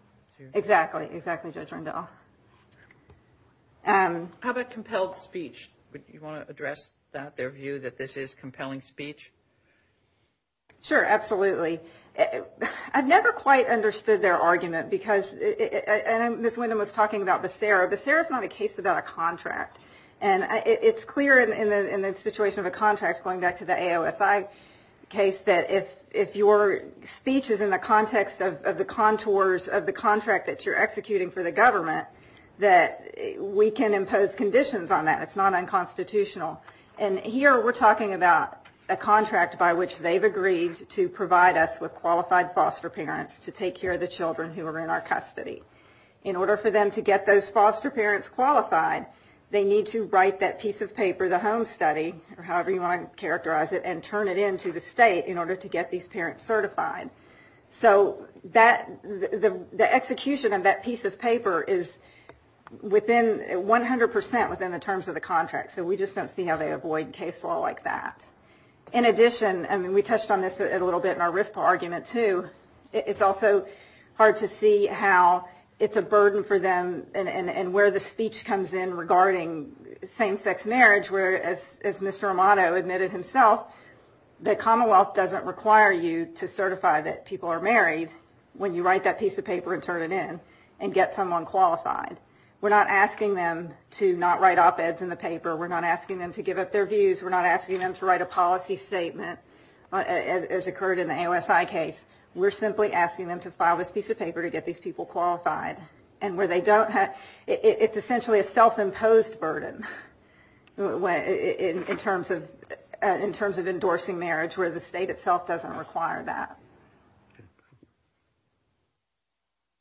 Exactly. Exactly, Judge Randolph. How about compelled speech? Do you want to address that, their view that this is compelling speech? Sure, absolutely. I've never quite understood their argument because... And Ms. Windham was talking about Becerra. Becerra's not a case about a contract. And it's clear in the situation of a contract, going back to the AOSI case, that if your speech is in the context of the contours of the contract that you're executing for the government, that we can impose conditions on that. It's not unconstitutional. And here we're talking about a contract by which they've agreed to provide us with qualified foster parents to take care of the children who are in our custody. In order for them to get those foster parents qualified, they need to write that piece of paper, the home study, or however you want to characterize it, and turn it into the state in order to get these parents certified. So the execution of that piece of paper is within 100% within the terms of the contract. So we just don't see how they avoid case law like that. In addition, and we touched on this a little bit in our RIFPA argument too, it's also hard to see how it's a burden for them and where the speech comes in regarding same-sex marriage, where, as Mr. Romano admitted himself, the Commonwealth doesn't require you to certify that people are married when you write that piece of paper and turn it in and get someone qualified. We're not asking them to not write op-eds in the paper. We're not asking them to give up their views. We're not asking them to write a policy statement, as occurred in the AOSI case. We're simply asking them to file this piece of paper to get these people qualified. It's essentially a self-imposed burden in terms of endorsing marriage where the state itself doesn't require that.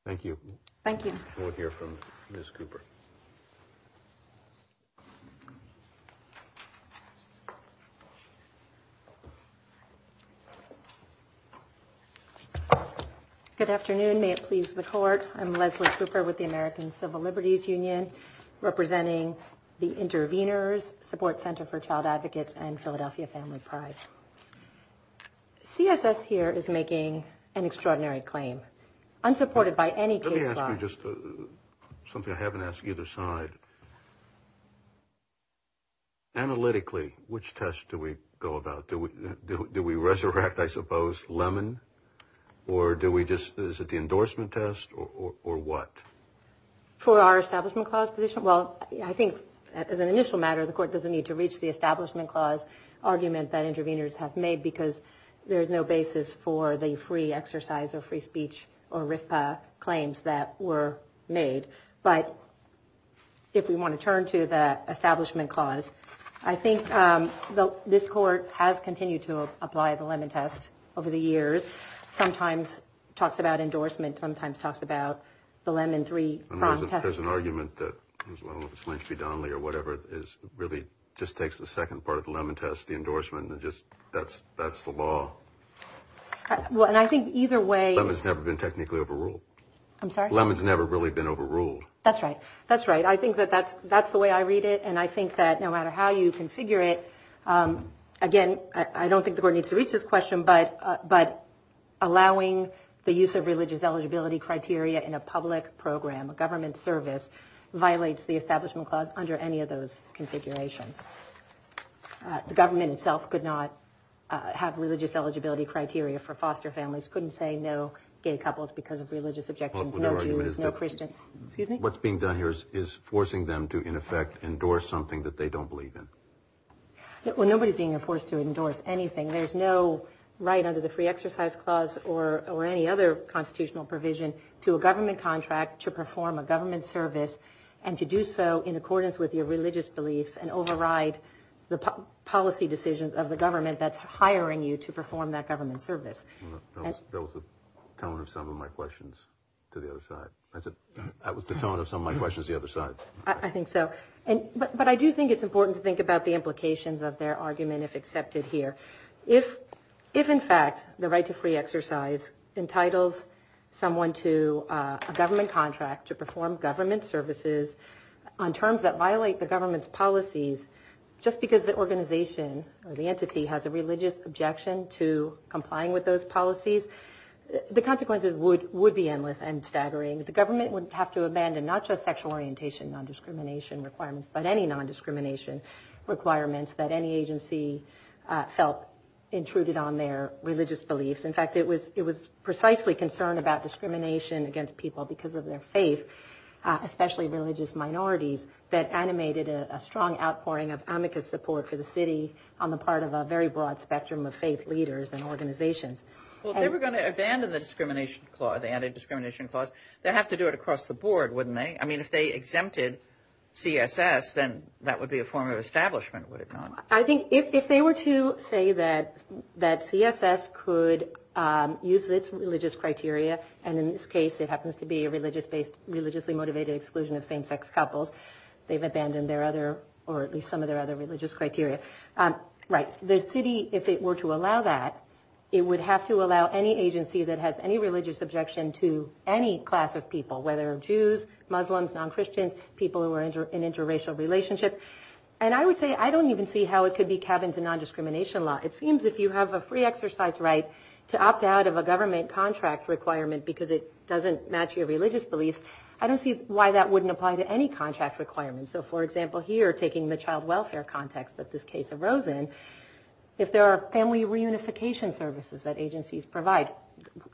Thank you. Thank you. We'll hear from Ms. Cooper. Good afternoon. May it please the Court. I'm Leslie Cooper with the American Civil Liberties Union representing the Intervenors Support Center for Child Advocates and Philadelphia Family Pride. CSS here is making an extraordinary claim, unsupported by any case law. Let me ask you something I haven't asked either side. Analytically, which test do we go about? Do we resurrect, I suppose, Lemon, or is it the endorsement test, or what? For our establishment clause position? Well, I think, as an initial matter, the Court doesn't need to reach the establishment clause argument that intervenors have made because there is no basis for the free exercise or free speech or RIFPA claims that were made. But if we want to turn to the establishment clause, I think this Court has continued to apply the Lemon test over the years. Sometimes it talks about endorsement. Sometimes it talks about the Lemon III prompt test. There's an argument that, well, it's Lynch v. Donnelly or whatever. It really just takes the second part of the Lemon test, the endorsement, and that's the law. And I think either way— Lemon's never been technically overruled. I'm sorry? Lemon's never really been overruled. That's right. That's right. I think that that's the way I read it, and I think that no matter how you configure it, again, I don't think the Court needs to reach this question, but allowing the use of religious eligibility criteria in a public program, a government service, violates the establishment clause under any of those configurations. The government itself could not have religious eligibility criteria for foster families, couldn't say no gay couples because of religious objections, no Jews, no Christians. Excuse me? What's being done here is forcing them to, in effect, endorse something that they don't believe in. Well, nobody's being forced to endorse anything. There's no right under the Free Exercise Clause or any other constitutional provision to a government contract to perform a government service and to do so in accordance with your religious beliefs and override the policy decisions of the government that's hiring you to perform that government service. That was the tone of some of my questions to the other side. That was the tone of some of my questions to the other side. I think so. But I do think it's important to think about the implications of their argument, if accepted here. If, in fact, the right to free exercise entitles someone to a government contract to perform government services on terms that violate the government's policies, just because the organization or the entity has a religious objection to complying with those policies, the consequences would be endless and staggering. The government would have to abandon not just sexual orientation, non-discrimination requirements, but any non-discrimination requirements that any agency felt intruded on their religious beliefs. In fact, it was precisely concern about discrimination against people because of their faith, especially religious minorities, that animated a strong outpouring of amicus support for the city on the part of a very broad spectrum of faith leaders and organizations. Well, if they were going to abandon the anti-discrimination clause, they'd have to do it across the board, wouldn't they? I mean, if they exempted CSS, then that would be a form of establishment, would it not? I think if they were to say that CSS could use this religious criteria, and in this case it happens to be a religiously motivated exclusion of same-sex couples, they've abandoned their other or at least some of their other religious criteria. Right, the city, if it were to allow that, it would have to allow any agency that has any religious objection to any class of people, whether Jews, Muslims, non-Christians, people who are in interracial relationships. And I would say I don't even see how it could be cabins in non-discrimination law. It seems if you have a free exercise right to opt out of a government contract requirement because it doesn't match your religious beliefs, I don't see why that wouldn't apply to any contract requirements. So, for example, here, taking the child welfare context that this case arose in, if there are family reunification services that agencies provide,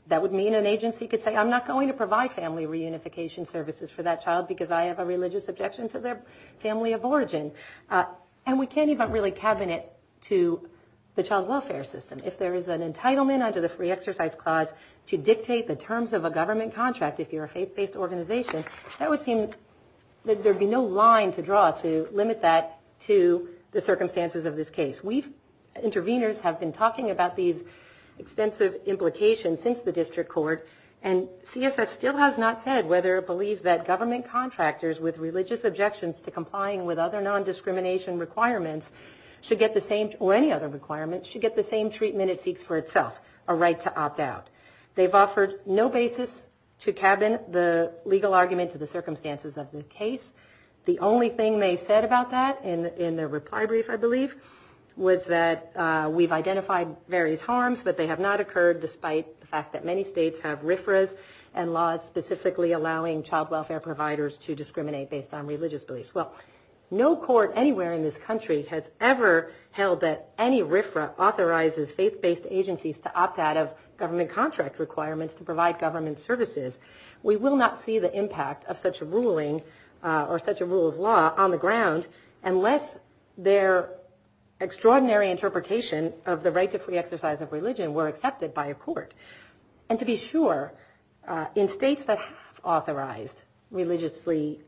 that would mean an agency could say, I'm not going to provide family reunification services for that child because I have a religious objection to their family of origin. And we can't even really cabinet to the child welfare system. If there is an entitlement under the free exercise clause to dictate the terms of a government contract, if you're a faith-based organization, that would seem that there would be no line to draw to limit that to the circumstances of this case. We, interveners, have been talking about these extensive implications since the district court, and CFS still has not said whether it believes that government contractors with religious objections to complying with other non-discrimination requirements should get the same, or any other requirements, should get the same treatment it seeks for itself, a right to opt out. They've offered no basis to cabinet the legal argument to the circumstances of this case. The only thing they said about that in their reply brief, I believe, was that we've identified various harms, but they have not occurred despite the fact that many states have RFRAs and laws specifically allowing child welfare providers to discriminate based on religious beliefs. Well, no court anywhere in this country has ever held that any RFRA authorizes faith-based agencies to opt out of government contract requirements to provide government services. We will not see the impact of such a ruling, or such a rule of law, on the ground unless their extraordinary interpretation of the right to free exercise of religion were accepted by a court. And to be sure, in states that have authorized religiously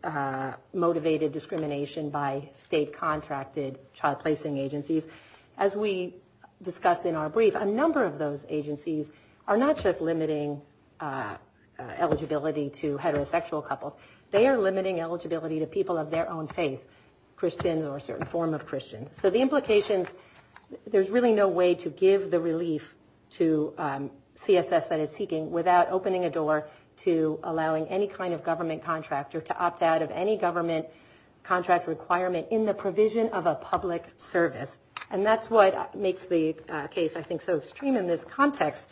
motivated discrimination by state-contracted child-placing agencies, as we discussed in our brief, a number of those agencies are not just limiting eligibility to heterosexual couples. They are limiting eligibility to people of their own faith, Christian or a certain form of Christian. So the implications, there's really no way to give the relief to CSS that it's seeking without opening a door to allowing any kind of government contractor to opt out of any government contract requirement in the provision of a public service. And that's what makes the case, I think, so extreme in this context,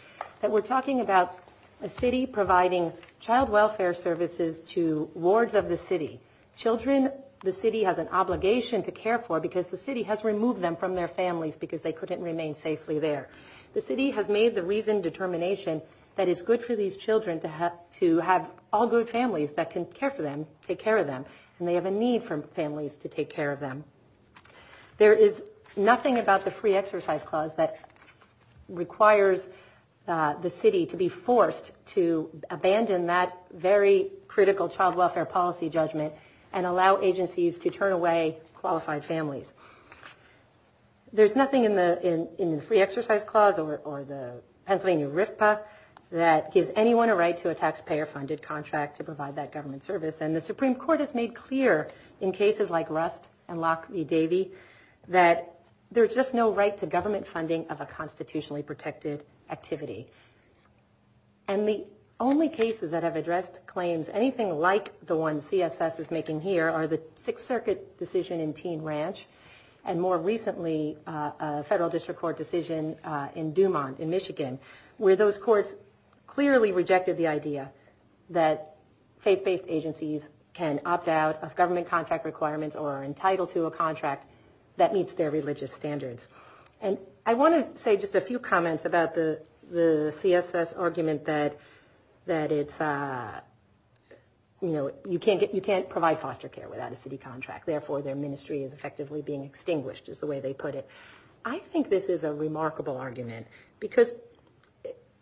that we're talking about a city providing child welfare services to wards of the city. Children, the city has an obligation to care for because the city has removed them from their families because they couldn't remain safely there. The city has made the reasoned determination that it's good for these children to have all good families that can care for them, take care of them, and they have a need for families to take care of them. There is nothing about the free exercise clause that requires the city to be forced to abandon that very critical child welfare policy judgment and allow agencies to turn away qualified families. There's nothing in the free exercise clause or the Pennsylvania RFPA that gives anyone a right to a taxpayer-funded contract to provide that government service. And the Supreme Court has made clear in cases like Rust and Locke v. Davey that there's just no right to government funding of a constitutionally protected activity. And the only cases that have addressed claims anything like the one CSS is making here are the Sixth Circuit decision in Teen Ranch and more recently a federal district court decision in DuMont in Michigan where those courts clearly rejected the idea that faith-based agencies can opt out of government contract requirements or are entitled to a contract that meets their religious standards. And I want to say just a few comments about the CSS argument that you can't provide foster care without a city contract, therefore their ministry is effectively being extinguished is the way they put it. I think this is a remarkable argument because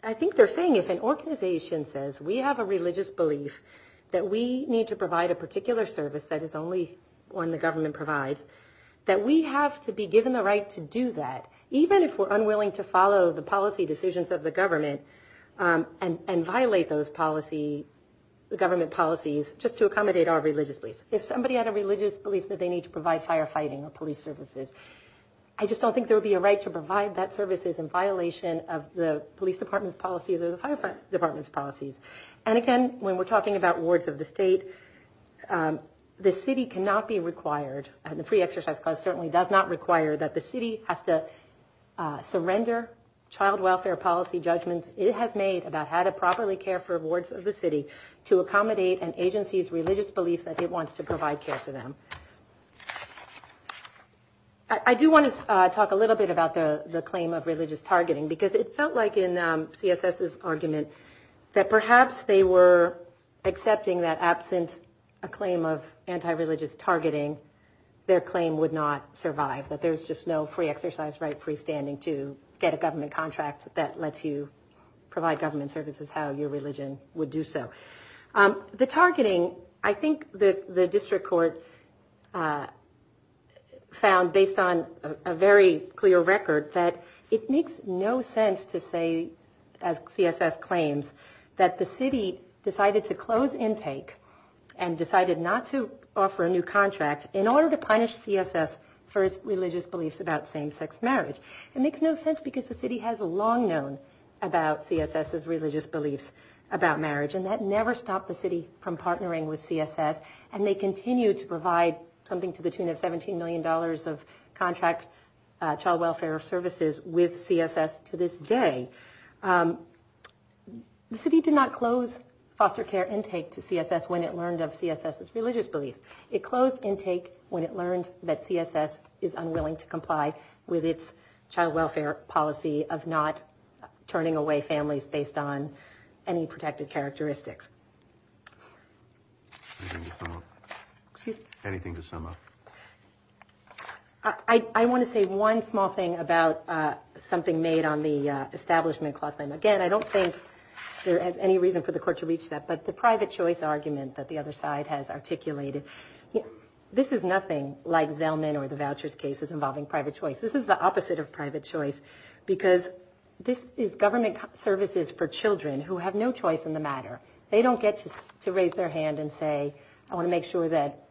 I think they're saying if an organization says we have a religious belief that we need to provide a particular service that is only one the government provides, that we have to be given the right to do that even if we're unwilling to follow the policy decisions of the government and violate those government policies just to accommodate our religious beliefs. If somebody had a religious belief that they need to provide firefighting or police services, I just don't think there would be a right to provide that services in violation of the police department's policies or the fire department's policies. And again, when we're talking about wards of the state, the city cannot be required and the Free Exercise Clause certainly does not require that the city has to surrender child welfare policy judgments it has made about how to properly care for wards of the city to accommodate an agency's religious belief that it wants to provide care for them. I do want to talk a little bit about the claim of religious targeting because it felt like in CSS's argument that perhaps they were accepting that absent a claim of anti-religious targeting, their claim would not survive, that there's just no free exercise right freestanding to get a government contract that lets you provide government services how your religion would do so. The targeting, I think the district court found based on a very clear record that it makes no sense to say, as CSS claims, that the city decided to close intake and decided not to offer a new contract in order to punish CSS for its religious beliefs about same-sex marriage. It makes no sense because the city has long known about CSS's religious beliefs about marriage and that never stopped the city from partnering with CSS and they continue to provide something to the tune of $17 million of contracts, child welfare services with CSS to this day. The city did not close foster care intake to CSS when it learned of CSS's religious beliefs. It closed intake when it learned that CSS is unwilling to comply with its child welfare policy of not turning away families based on any protected characteristics. Anything to sum up? I want to say one small thing about something made on the establishment clause. Again, I don't think there's any reason for the court to reach that, but the private choice argument that the other side has articulated, this is nothing like Zellman or the vouchers cases involving private choice. This is the opposite of private choice because this is government services for children who have no choice in the matter. They don't get to raise their hand and say, I want to make sure that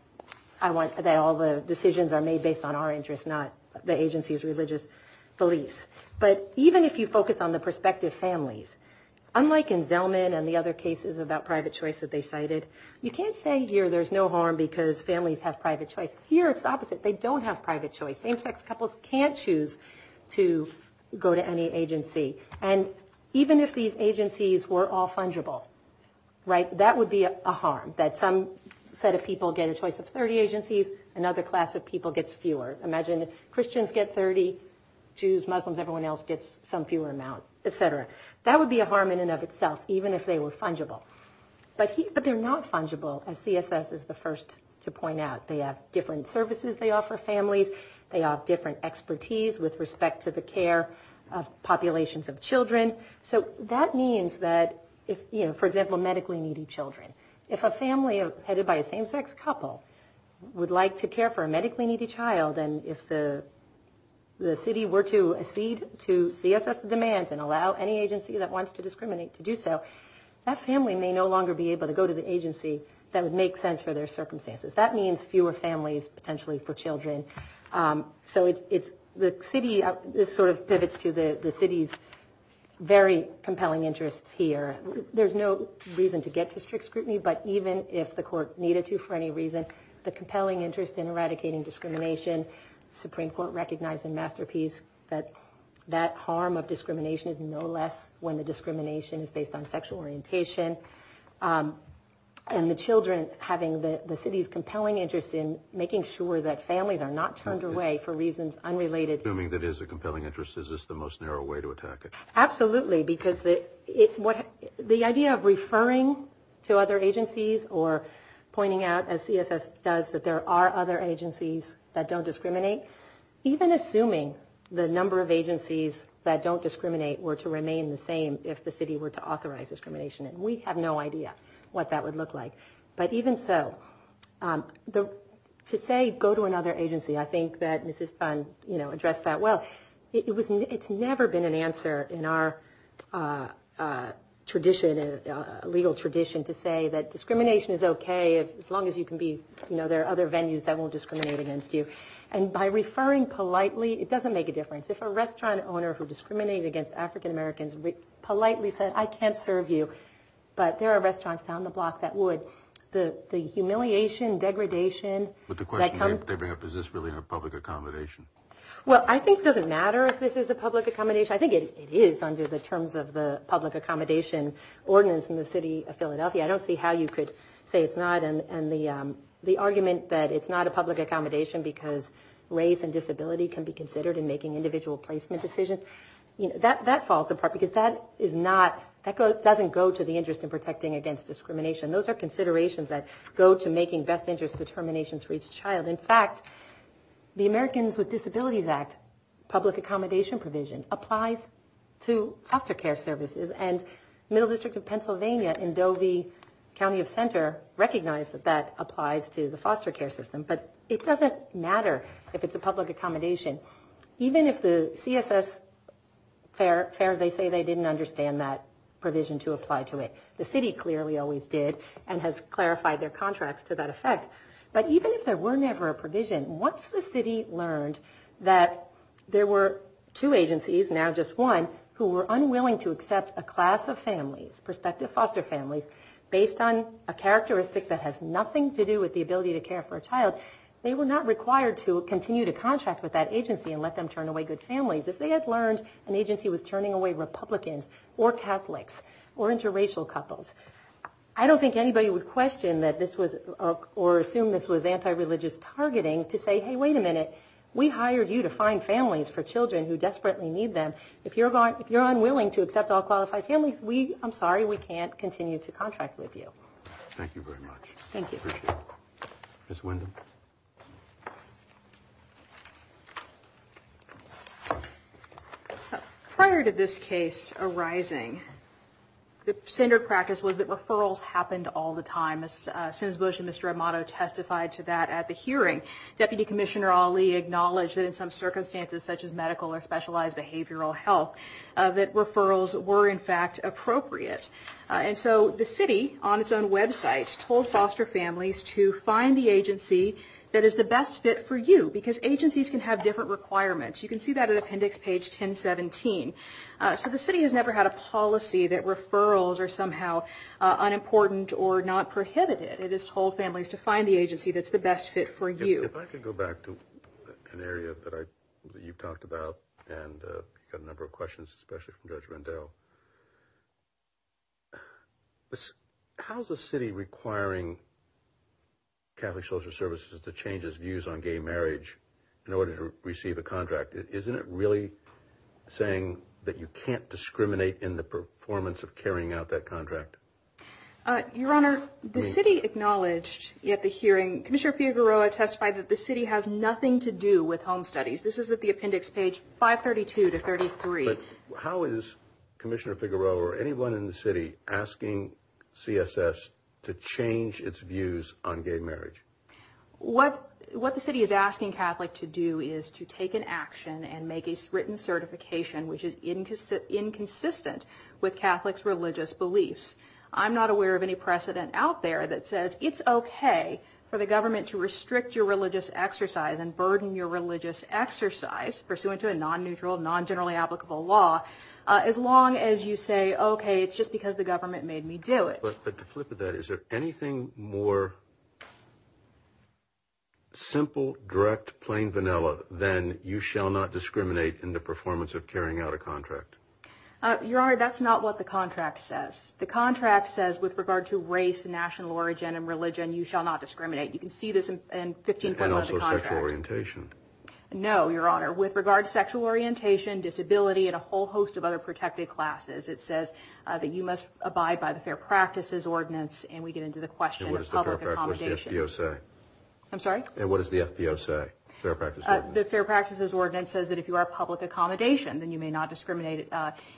all the decisions are made based on our interests, not the agency's religious beliefs. But even if you focus on the prospective families, unlike in Zellman and the other cases about private choice that they cited, you can't say here there's no harm because families have private choice. Here it's the opposite. They don't have private choice. Same-sex couples can't choose to go to any agency. And even if these agencies were all fungible, that would be a harm. That some set of people get a choice of 30 agencies, another class of people gets fewer. Imagine if Christians get 30, Jews, Muslims, everyone else gets some fewer amount, et cetera. That would be a harm in and of itself, even if they were fungible. But they're not fungible, as CSS is the first to point out. They have different services they offer families. They have different expertise with respect to the care of populations of children. So that means that if, you know, for example, medically needy children, if a family headed by a same-sex couple would like to care for a medically needy child and if the city were to accede to CSS demands and allow any agency that wants to discriminate to do so, that family may no longer be able to go to the agency that would make sense for their circumstances. That means fewer families potentially for children. So the city sort of pivots to the city's very compelling interests here. There's no reason to get to strict scrutiny, but even if the court needed to for any reason, the compelling interest in eradicating discrimination, the Supreme Court recognized in Masterpiece that that harm of discrimination is no less when the discrimination is based on sexual orientation. And the children having the city's compelling interest in making sure that families are not turned away for reasons unrelated. Assuming that is a compelling interest, is this the most narrow way to attack it? Absolutely, because the idea of referring to other agencies or pointing out, as CSS does, that there are other agencies that don't discriminate, even assuming the number of agencies that don't discriminate were to remain the same if the city were to authorize discrimination. And we have no idea what that would look like. But even so, to say go to another agency, I think that Mrs. Phan, you know, addressed that well. It's never been an answer in our tradition, legal tradition, to say that discrimination is okay as long as you can be, you know, there are other venues that won't discriminate against you. And by referring politely, it doesn't make a difference. If a restaurant owner who discriminated against African-Americans politely said, I can't serve you, but there are restaurants down the block that would, the humiliation, degradation. But the question is, is this really a public accommodation? Well, I think it doesn't matter if this is a public accommodation. I think it is under the terms of the public accommodation ordinance in the city of Philadelphia. I don't see how you could say it's not. And the argument that it's not a public accommodation because race and disability can be considered in making individual placement decisions, you know, that falls apart, because that is not, that doesn't go to the interest in protecting against discrimination. Those are considerations that go to making best interest determinations for each child. In fact, the Americans with Disabilities Act, public accommodation provision, applies to foster care services. And Middle District of Pennsylvania in Dovey County of Center recognized that that applies to the foster care system. But it doesn't matter if it's a public accommodation. Even if the CFS, fair as they say, they didn't understand that provision to apply to it. The city clearly always did and has clarified their contracts to that effect. But even if there were never a provision, once the city learned that there were two agencies, now just one, who were unwilling to accept a class of families, prospective foster families, based on a characteristic that has nothing to do with the ability to care for a child, they were not required to continue to contract with that agency and let them turn away good families. If they had learned an agency was turning away Republicans or Catholics or interracial couples, I don't think anybody would question or assume this was anti-religious targeting to say, hey, wait a minute, we hired you to find families for children who desperately need them. If you're unwilling to accept all qualified families, I'm sorry, we can't continue to contract with you. Thank you very much. Thank you. Ms. Windham. Prior to this case arising, the standard practice was that referrals happened all the time. As soon as Mr. Amato testified to that at the hearing, Deputy Commissioner Ali acknowledged that in some circumstances, such as medical or specialized behavioral health, that referrals were, in fact, appropriate. And so the city, on its own websites, told foster families to find the agency that is the best fit for you, because agencies can have different requirements. You can see that at appendix page 1017. So the city has never had a policy that referrals are somehow unimportant or not prohibited. It has told families to find the agency that's the best fit for you. If I could go back to an area that you talked about, and you had a number of questions, especially from Judge Rendell. How is the city requiring Catholic Social Services to change its views on gay marriage in order to receive a contract? Isn't it really saying that you can't discriminate in the performance of carrying out that contract? Your Honor, the city acknowledged at the hearing, Commissioner Figueroa testified that the city has nothing to do with home studies. This is at the appendix page 532 to 533. How is Commissioner Figueroa or anyone in the city asking CSS to change its views on gay marriage? What the city is asking Catholics to do is to take an action and make a written certification which is inconsistent with Catholics' religious beliefs. I'm not aware of any precedent out there that says it's okay for the government to restrict your religious exercise and burden your religious exercise pursuant to a non-neutral, non-generally applicable law, as long as you say, okay, it's just because the government made me do it. But to flip it, is there anything more simple, direct, plain vanilla than you shall not discriminate in the performance of carrying out a contract? Your Honor, that's not what the contract says. The contract says with regard to race, national origin, and religion, you shall not discriminate. You can see this in 15.1 of the contract. And also sexual orientation. No, Your Honor. With regard to sexual orientation, disability, and a whole host of other protected classes, it says that you must abide by the Fair Practices Ordinance, and we get into the question of public accommodation. And what does the FPO say? I'm sorry? And what does the FPO say, Fair Practices Ordinance? The Fair Practices Ordinance says that if you are public accommodation, then you may not discriminate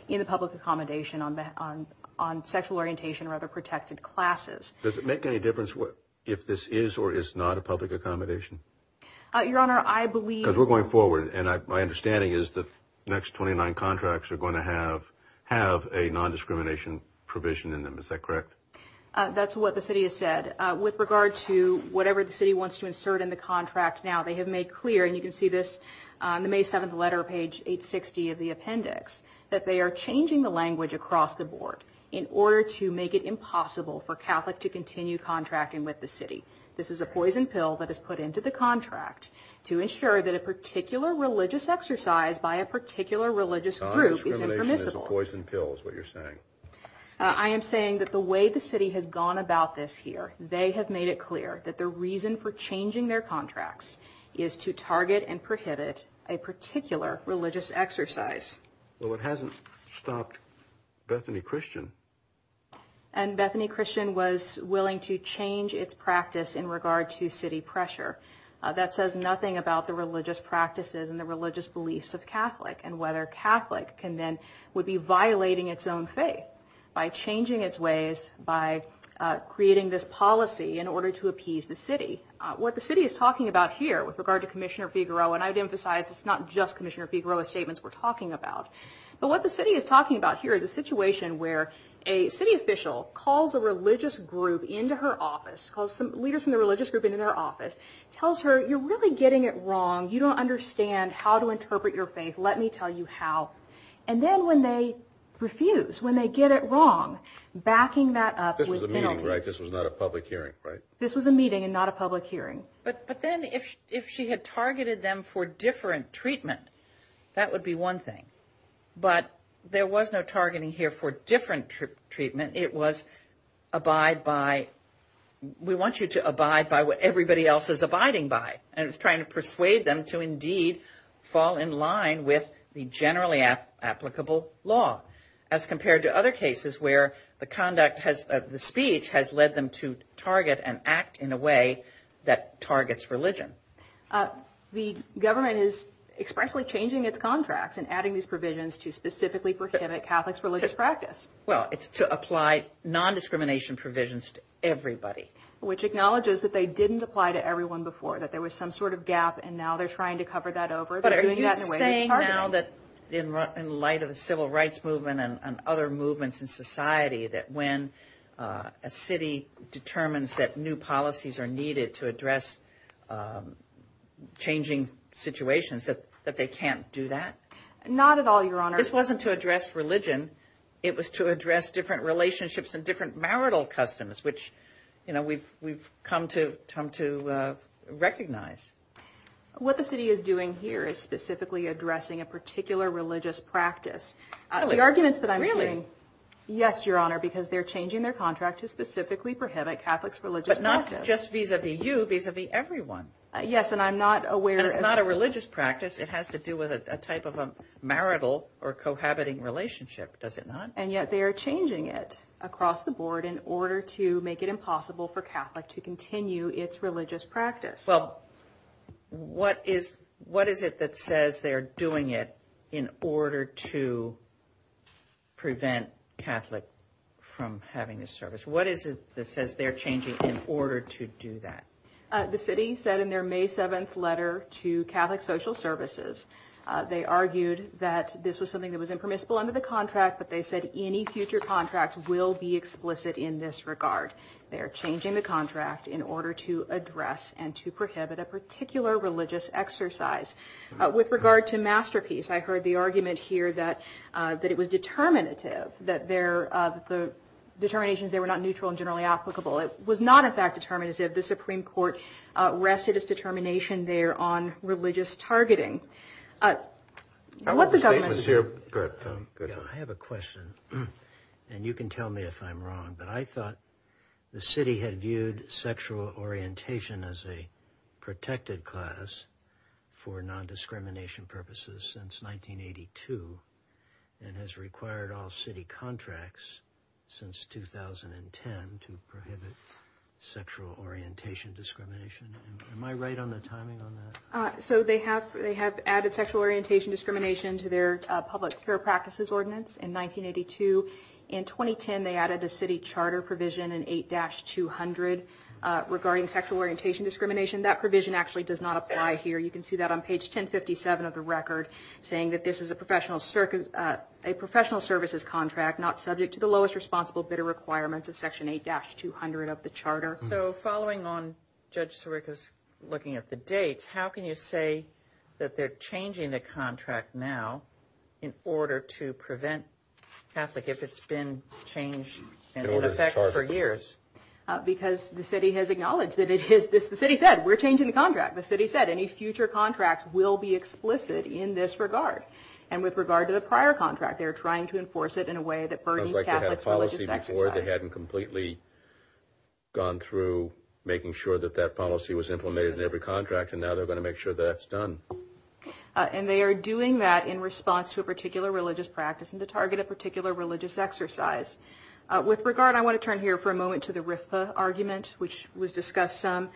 in the public accommodation on sexual orientation or other protected classes. Does it make any difference if this is or is not a public accommodation? Your Honor, I believe we're going forward, and my understanding is the next 29 contracts are going to have a nondiscrimination provision in them. Is that correct? That's what the city has said. With regard to whatever the city wants to insert in the contract now, they have made clear, and you can see this on the May 7th letter, page 860 of the appendix, that they are changing the language across the board in order to make it impossible for Catholics to continue contracting with the city. This is a poison pill that is put into the contract to ensure that a particular religious exercise by a particular religious group is impermissible. Non-discrimination is a poison pill is what you're saying. I am saying that the way the city has gone about this here, they have made it clear that the reason for changing their contracts is to target and prohibit a particular religious exercise. Well, it hasn't stopped Bethany Christian. And Bethany Christian was willing to change its practice in regard to city pressure. That says nothing about the religious practices and the religious beliefs of Catholic and whether Catholic would be violating its own faith by changing its ways, by creating this policy in order to appease the city. What the city is talking about here with regard to Commissioner Figueroa, and I've emphasized it's not just Commissioner Figueroa's statements we're talking about. But what the city is talking about here is a situation where a city official calls a religious group into her office, calls some leaders from the religious group into her office, tells her, you're really getting it wrong. You don't understand how to interpret your faith. Let me tell you how. And then when they refuse, when they get it wrong, backing that up with them. This was a meeting, right? This was not a public hearing, right? This was a meeting and not a public hearing. But then if she had targeted them for different treatment, that would be one thing. But there was no targeting here for different treatment. It was abide by, we want you to abide by what everybody else is abiding by. And it's trying to persuade them to indeed fall in line with the generally applicable law. As compared to other cases where the conduct has, the speech has led them to target and act in a way that targets religion. The government is expressly changing its contracts and adding these provisions to specifically prohibit Catholics' religious practice. Well, it's to apply non-discrimination provisions to everybody. Which acknowledges that they didn't apply to everyone before, that there was some sort of gap and now they're trying to cover that over. But are you saying now that in light of the Civil Rights Movement and other movements in society that when a city determines that new policies are needed to address changing situations, that they can't do that? Not at all, Your Honor. This wasn't to address religion. It was to address different relationships and different marital customs, which we've come to recognize. What the city is doing here is specifically addressing a particular religious practice. Really? Yes, Your Honor, because they're changing their contract to specifically prohibit Catholics' religious practice. But not just vis-a-vis you, vis-a-vis everyone. Yes, and I'm not aware... It's not a religious practice. It has to do with a type of a marital or cohabiting relationship, does it not? And yet they are changing it across the board in order to make it impossible for Catholics to continue its religious practice. Well, what is it that says they're doing it in order to prevent Catholics from having this service? What is it that says they're changing it in order to do that? The city said in their May 7th letter to Catholic Social Services, they argued that this was something that was impermissible under the contract, but they said any future contracts will be explicit in this regard. They are changing the contract in order to address and to prohibit a particular religious exercise. With regard to Masterpiece, I heard the argument here that it was determinative, that the determinations there were not neutral and generally applicable. It was not, in fact, determinative. The Supreme Court rested its determination there on religious targeting. I have a question, and you can tell me if I'm wrong, but I thought the city had viewed sexual orientation as a protected class for non-discrimination purposes since 1982 and has required all city contracts since 2010 to prohibit sexual orientation discrimination. Am I right on the timing on that? So they have added sexual orientation discrimination to their public care practices ordinance in 1982. In 2010, they added the city charter provision in 8-200 regarding sexual orientation discrimination. That provision actually does not apply here. You can see that on page 1057 of the record, saying that this is a professional services contract not subject to the lowest responsible bidder requirements of section 8-200 of the charter. So following on Judge Sorica's looking at the dates, how can you say that they're changing the contract now in order to prevent traffic if it's been changed and in effect for years? Because the city has acknowledged that it is, the city said, we're changing the contract. The city said any future contract will be explicit in this regard. And with regard to the prior contract, they're trying to enforce it in a way that burdens Catholic religious sexuality. It sounds like they had a policy before. They hadn't completely gone through making sure that that policy was implemented in every contract, and now they're going to make sure that's done. And they are doing that in response to a particular religious practice and to target a particular religious exercise. With regard, I want to turn here for a moment to the RFPA argument, which was discussed in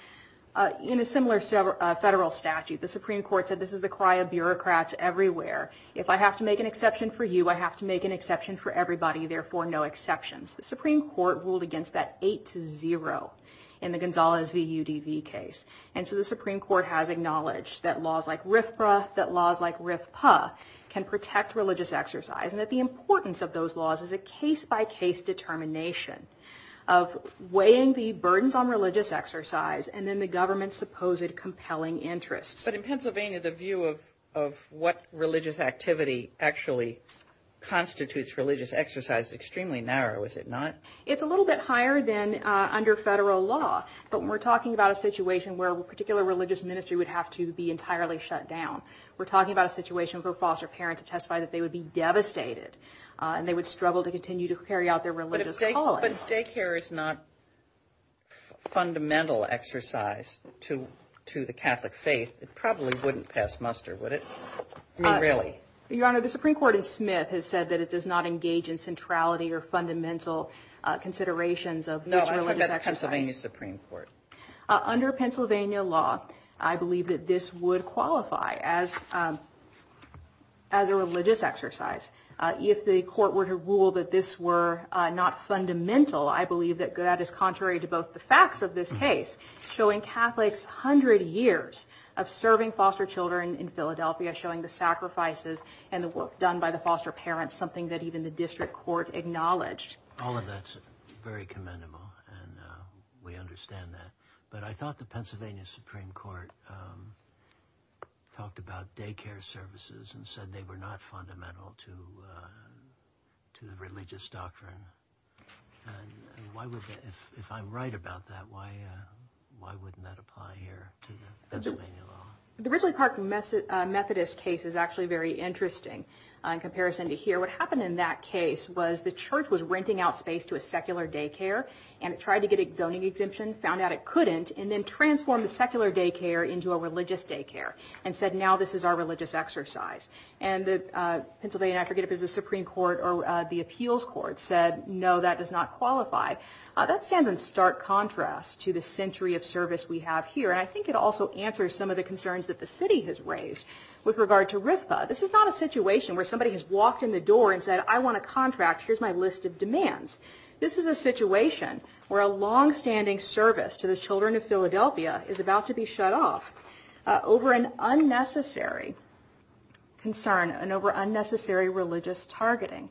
a similar federal statute. The Supreme Court said this is the cry of bureaucrats everywhere. If I have to make an exception for you, I have to make an exception for everybody, therefore no exceptions. The Supreme Court ruled against that 8-0 in the Gonzales v. UDV case. And so the Supreme Court has acknowledged that laws like RFPA, that laws like RFPA can protect religious exercise, and that the importance of those laws is a case-by-case determination of weighing the burdens on religious exercise and then the government's supposed compelling interests. But in Pennsylvania, the view of what religious activity actually constitutes religious exercise is extremely narrow, is it not? It's a little bit higher than under federal law. But when we're talking about a situation where a particular religious ministry would have to be entirely shut down, we're talking about a situation for a foster parent to testify that they would be devastated and they would struggle to continue to carry out their religious calling. But if daycare is not a fundamental exercise to the Catholic faith, it probably wouldn't pass muster, would it? Not really. Your Honor, the Supreme Court in Smith has said that it does not engage in centrality or fundamental considerations of religious exercise. Pennsylvania Supreme Court. Under Pennsylvania law, I believe that this would qualify as a religious exercise. If the court were to rule that this were not fundamental, I believe that that is contrary to both the facts of this case, showing Catholics 100 years of serving foster children in Philadelphia, showing the sacrifices and the work done by the foster parents, something that even the district court acknowledged. All of that is very commendable, and we understand that. But I thought the Pennsylvania Supreme Court talked about daycare services and said they were not fundamental to religious doctrine. If I'm right about that, why wouldn't that apply here to Pennsylvania law? The Richard Clark Methodist case is actually very interesting in comparison to here. What happened in that case was the church was renting out space to a secular daycare and tried to get a zoning exemption, found out it couldn't, and then transformed the secular daycare into a religious daycare and said now this is our religious exercise. And the Pennsylvania Supreme Court or the appeals court said no, that does not qualify. That stands in stark contrast to the century of service we have here, and I think it also answers some of the concerns that the city has raised with regard to RIPPA. This is not a situation where somebody has walked in the door and said I want a contract, here's my list of demands. This is a situation where a longstanding service to the children of Philadelphia is about to be shut off over an unnecessary concern and over unnecessary religious targeting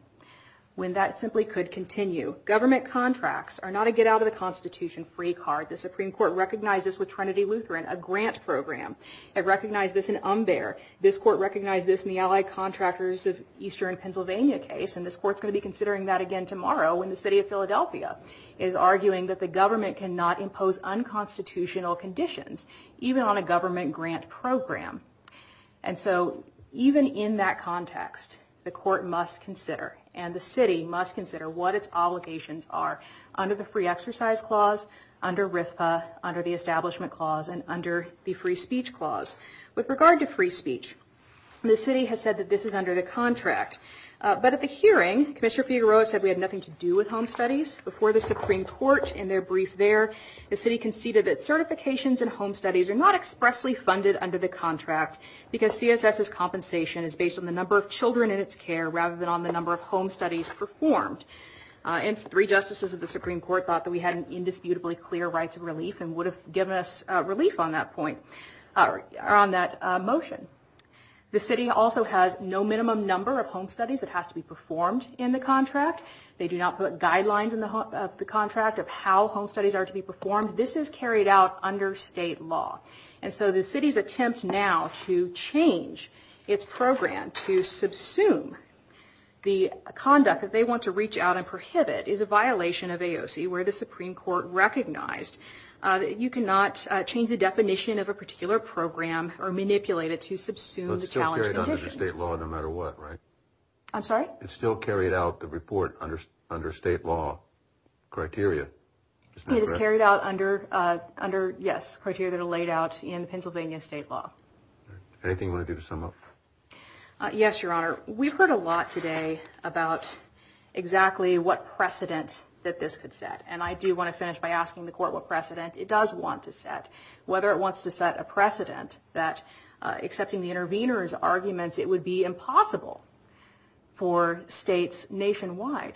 when that simply could continue. Government contracts are not a get-out-of-the-Constitution free card. The Supreme Court recognized this with Trinity Lutheran, a grant program. It recognized this in Umber. This court recognized this in the Allied Contractors of Eastern Pennsylvania case, and this court is going to be considering that again tomorrow when the city of Philadelphia is arguing that the government cannot impose unconstitutional conditions even on a government grant program. And so even in that context, the court must consider and the city must consider what its obligations are under the free exercise clause, under RIPPA, under the establishment clause, and under the free speech clause. With regard to free speech, the city has said that this is under the contract. But at the hearing, Commissioner Figueroa said we had nothing to do with home studies. Before the Supreme Court, in their brief there, the city conceded that certifications in home studies are not expressly funded under the contract because CSS's compensation is based on the number of children in its care rather than on the number of home studies performed. And three justices of the Supreme Court thought that we had an indisputably clear right to relief and would have given us relief on that motion. The city also has no minimum number of home studies that has to be performed in the contract. They do not put guidelines in the contract of how home studies are to be performed. This is carried out under state law. And so the city's attempt now to change its program to subsume the conduct that they want to reach out and prohibit is a violation of AOC where the Supreme Court recognized that you cannot change the definition of a particular program or manipulate it to subsume the challenge. It's still carried out under state law no matter what, right? I'm sorry? It's still carried out, the report, under state law criteria. It's carried out under, yes, criteria that are laid out in Pennsylvania state law. Anything you want to do to sum up? Yes, Your Honor. We've heard a lot today about exactly what precedents that this could set. And I do want to finish by asking the court what precedent it does want to set. Whether it wants to set a precedent that, accepting the intervener's arguments, it would be impossible for states nationwide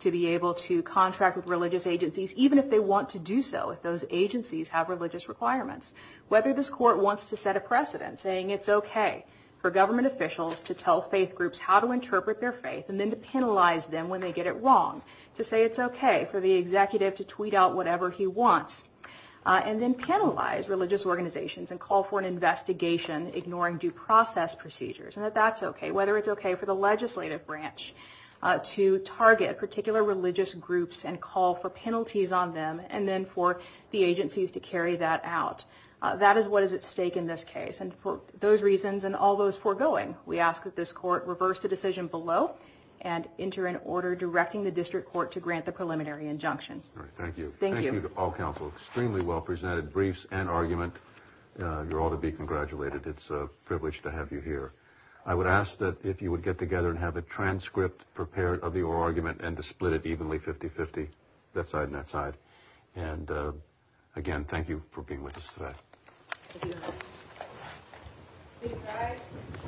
to be able to contract with religious agencies, even if they want to do so if those agencies have religious requirements. Whether this court wants to set a precedent saying it's okay for government officials to tell faith groups how to interpret their faith and then to penalize them when they get it wrong, to say it's okay for the executive to tweet out whatever he wants and then penalize religious organizations and call for an investigation ignoring due process procedures, and that that's okay. Whether it's okay for the legislative branch to target particular religious groups and call for penalties on them and then for the agencies to carry that out. That is what is at stake in this case. And for those reasons and all those foregoing, we ask that this court reverse the decision below and enter an order directing the district court to grant the preliminary injunction. Thank you. Thank you. Thank you to all counsel. Extremely well presented briefs and argument. You're all to be congratulated. It's a privilege to have you here. I would ask that if you would get together and have a transcript prepared of your argument and to split it evenly 50-50, left side, right side. And again, thank you for being with us today. Thank you.